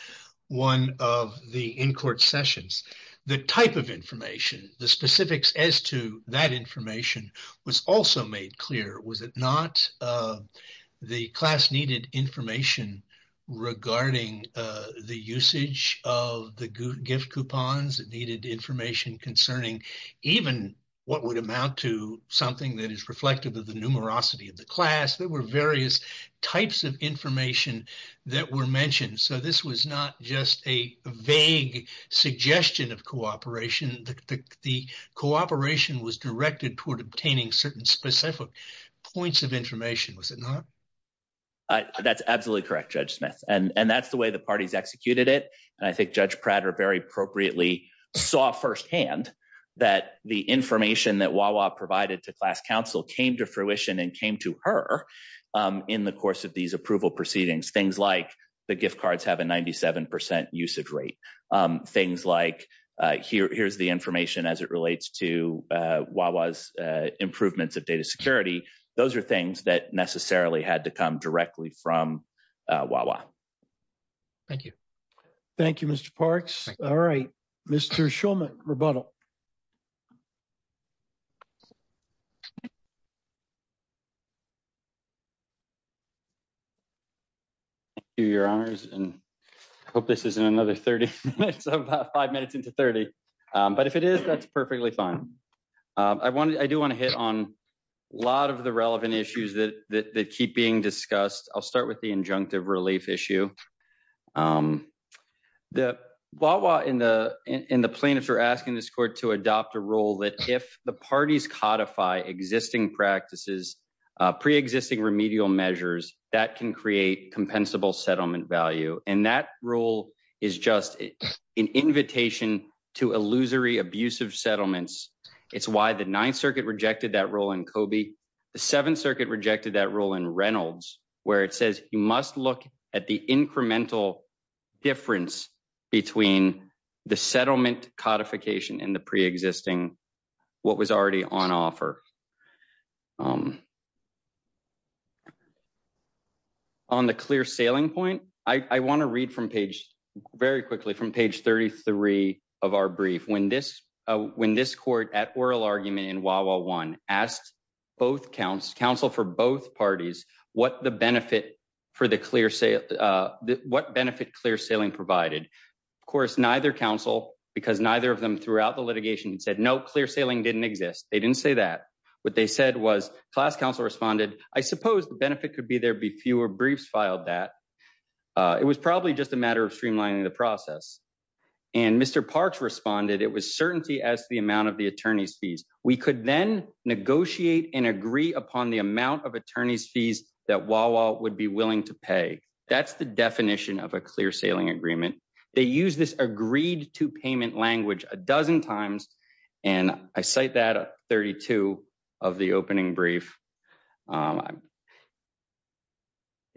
one of the in court sessions, the type of information, the specifics as to that information was also made clear. Was it not? The class needed information. Regarding the usage of the good gift coupons needed information concerning even what would amount to something that is reflective of the numerosity of the class. There were various types of information that were mentioned. So this was not just a vague suggestion of cooperation. The cooperation was directed toward obtaining certain specific points of information. Was it not? That's absolutely correct. Judge Smith. And that's the way the parties executed it. And I think judge Pratt are very appropriately saw firsthand that the information that Wawa provided to class counsel came to fruition and came to her in the course of these approval proceedings, things like the gift cards have a 97% usage rate. Things like here, here's the information as it relates to Wawa's improvements of data security. Those are things that necessarily had to come directly from Wawa. Thank you. Thank you, Mr. Parks. All right, Mr. Schulman rebuttal. Do your honors and hope this isn't another 30 minutes of five minutes into 30. But if it is, that's perfectly fine. I wanted, I do want to hit on. A lot of the relevant issues that keep being discussed. I'll start with the injunctive relief issue. The Wawa in the, in, in the plaintiffs are asking this court to adopt a rule that if the parties codify existing practices, pre-existing remedial measures, that can create compensable settlement value. And that rule is just an invitation to illusory abusive settlements. It's why the ninth circuit rejected that role in Kobe. The seventh circuit rejected that role in Reynolds, where it says, you must look at the incremental difference. Between the settlement codification in the pre-existing. What was already on offer? On the clear sailing point. I want to read from page. Very quickly from page 33 of our brief. When this. When this court at oral argument in Wawa one asked. Both counts counsel for both parties. What the benefit. For the clear sale. What benefit clear sailing provided. Of course, neither council because neither of them throughout the litigation said no clear sailing didn't exist. They didn't say that. What they said was class council responded. I suppose the benefit could be there'd be fewer briefs filed that. It was probably just a matter of streamlining the process. And Mr. Parks responded. It was certainty as the amount of the attorney's fees, We could then negotiate and agree upon the amount of attorney's fees. That wall would be willing to pay. That's the definition of a clear sailing agreement. They use this agreed to payment language a dozen times. And I say that 32. Of the opening brief. That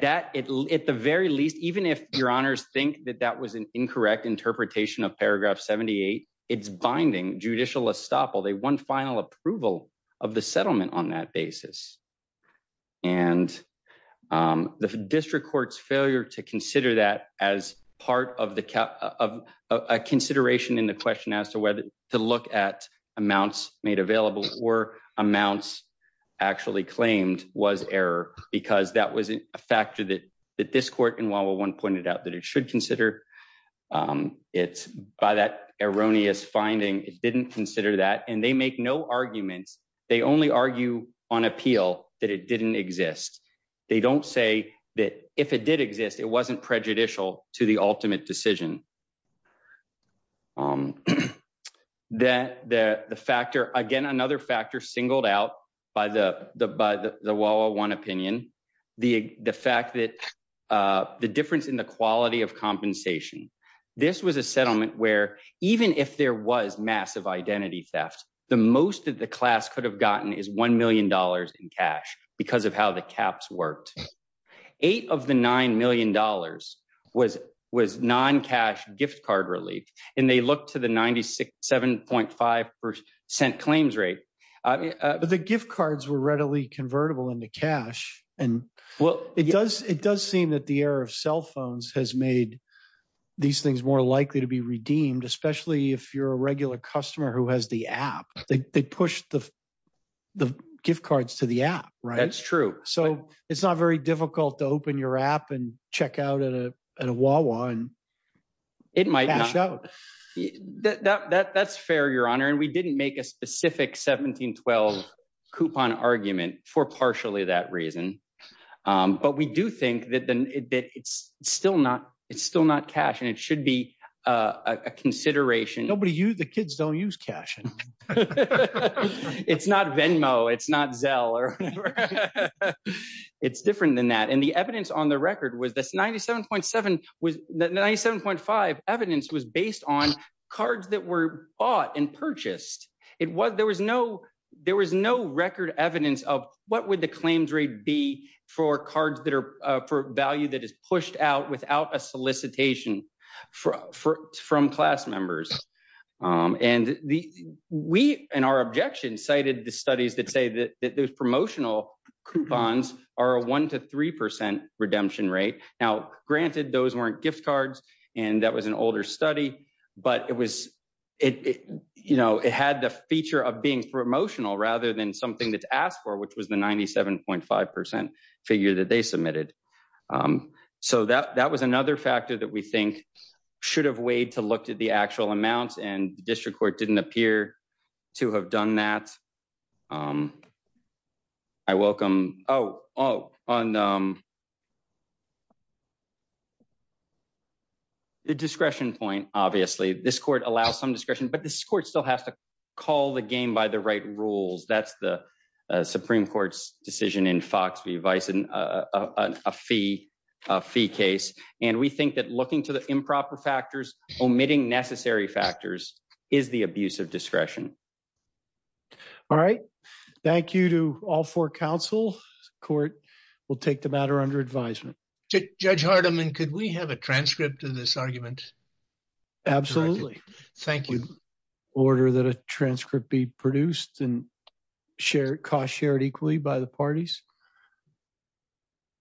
at the very least, even if your honors. Think that that was an incorrect interpretation of paragraph 78. It's binding judicial estoppel. They won final approval. Of the settlement on that basis. And the district court's failure to consider that as part of the cap. A consideration in the question as to whether to look at amounts made available or amounts. Actually claims was error because that was a factor that. That this court and Wawa one pointed out that it should consider. It's by that erroneous finding. It didn't consider that. And they make no arguments. They only argue on appeal that it didn't exist. They don't say that if it did exist, it wasn't prejudicial to the ultimate decision. That the factor again, another factor singled out. By the, the, by the, the wall, one opinion. The, the fact that. The difference in the quality of compensation. This was a settlement where even if there was massive identity theft. The most of the class could have gotten is $1 million in cash. Because of how the caps worked. Eight of the $9 million. Was was non-cash gift card relief. And they looked to the 96, 7.5. The gift cards were readily convertible into cash. And well, it does, it does seem that the air of cell phones has made these things more likely to be redeemed. Especially if you're a regular customer who has the app, they push the. The gift cards to the app. Right. That's true. So it's not very difficult to open your app and check out at a, at a wall one. It might not show that that that's fair, your honor. And we didn't make a specific 17, 12. Coupon argument for partially that reason. But we do think that then it's still not, it's still not cash. And it should be a consideration. Nobody's used the kids. Don't use cash. It's not Venmo. It's not Dell. It's different than that. And the evidence on the record with this 97.7. With the 97.5 evidence was based on cards that were bought and purchased. It was, there was no, there was no record evidence of what would the claims rate be for cards that are for value that is pushed out without a solicitation for, from class members. And the, we, and our objection cited the studies that say that there's promotional coupons are a one to 3% redemption rate. Now, granted those weren't gift cards and that was an older study, but it was, it, you know, it had the feature of being promotional rather than something that's asked for, which was the 97.5% figure that they submitted. So that, that was another factor that we think should have weighed to look at the actual amounts and district court didn't appear to have done that. I welcome. Oh, oh, on. The discretion point, obviously this court allows some discretion, but this court still has to call the game by the right rules. That's the Supreme court's decision in Fox. A fee fee case. And we think that looking to the improper factors omitting necessary factors is the abuse of discretion. All right. Thank you to all four council court. We'll take the matter under advisement. Judge Hardiman. Could we have a transcript of this argument? Thank you. Order that a transcript be produced and. Okay.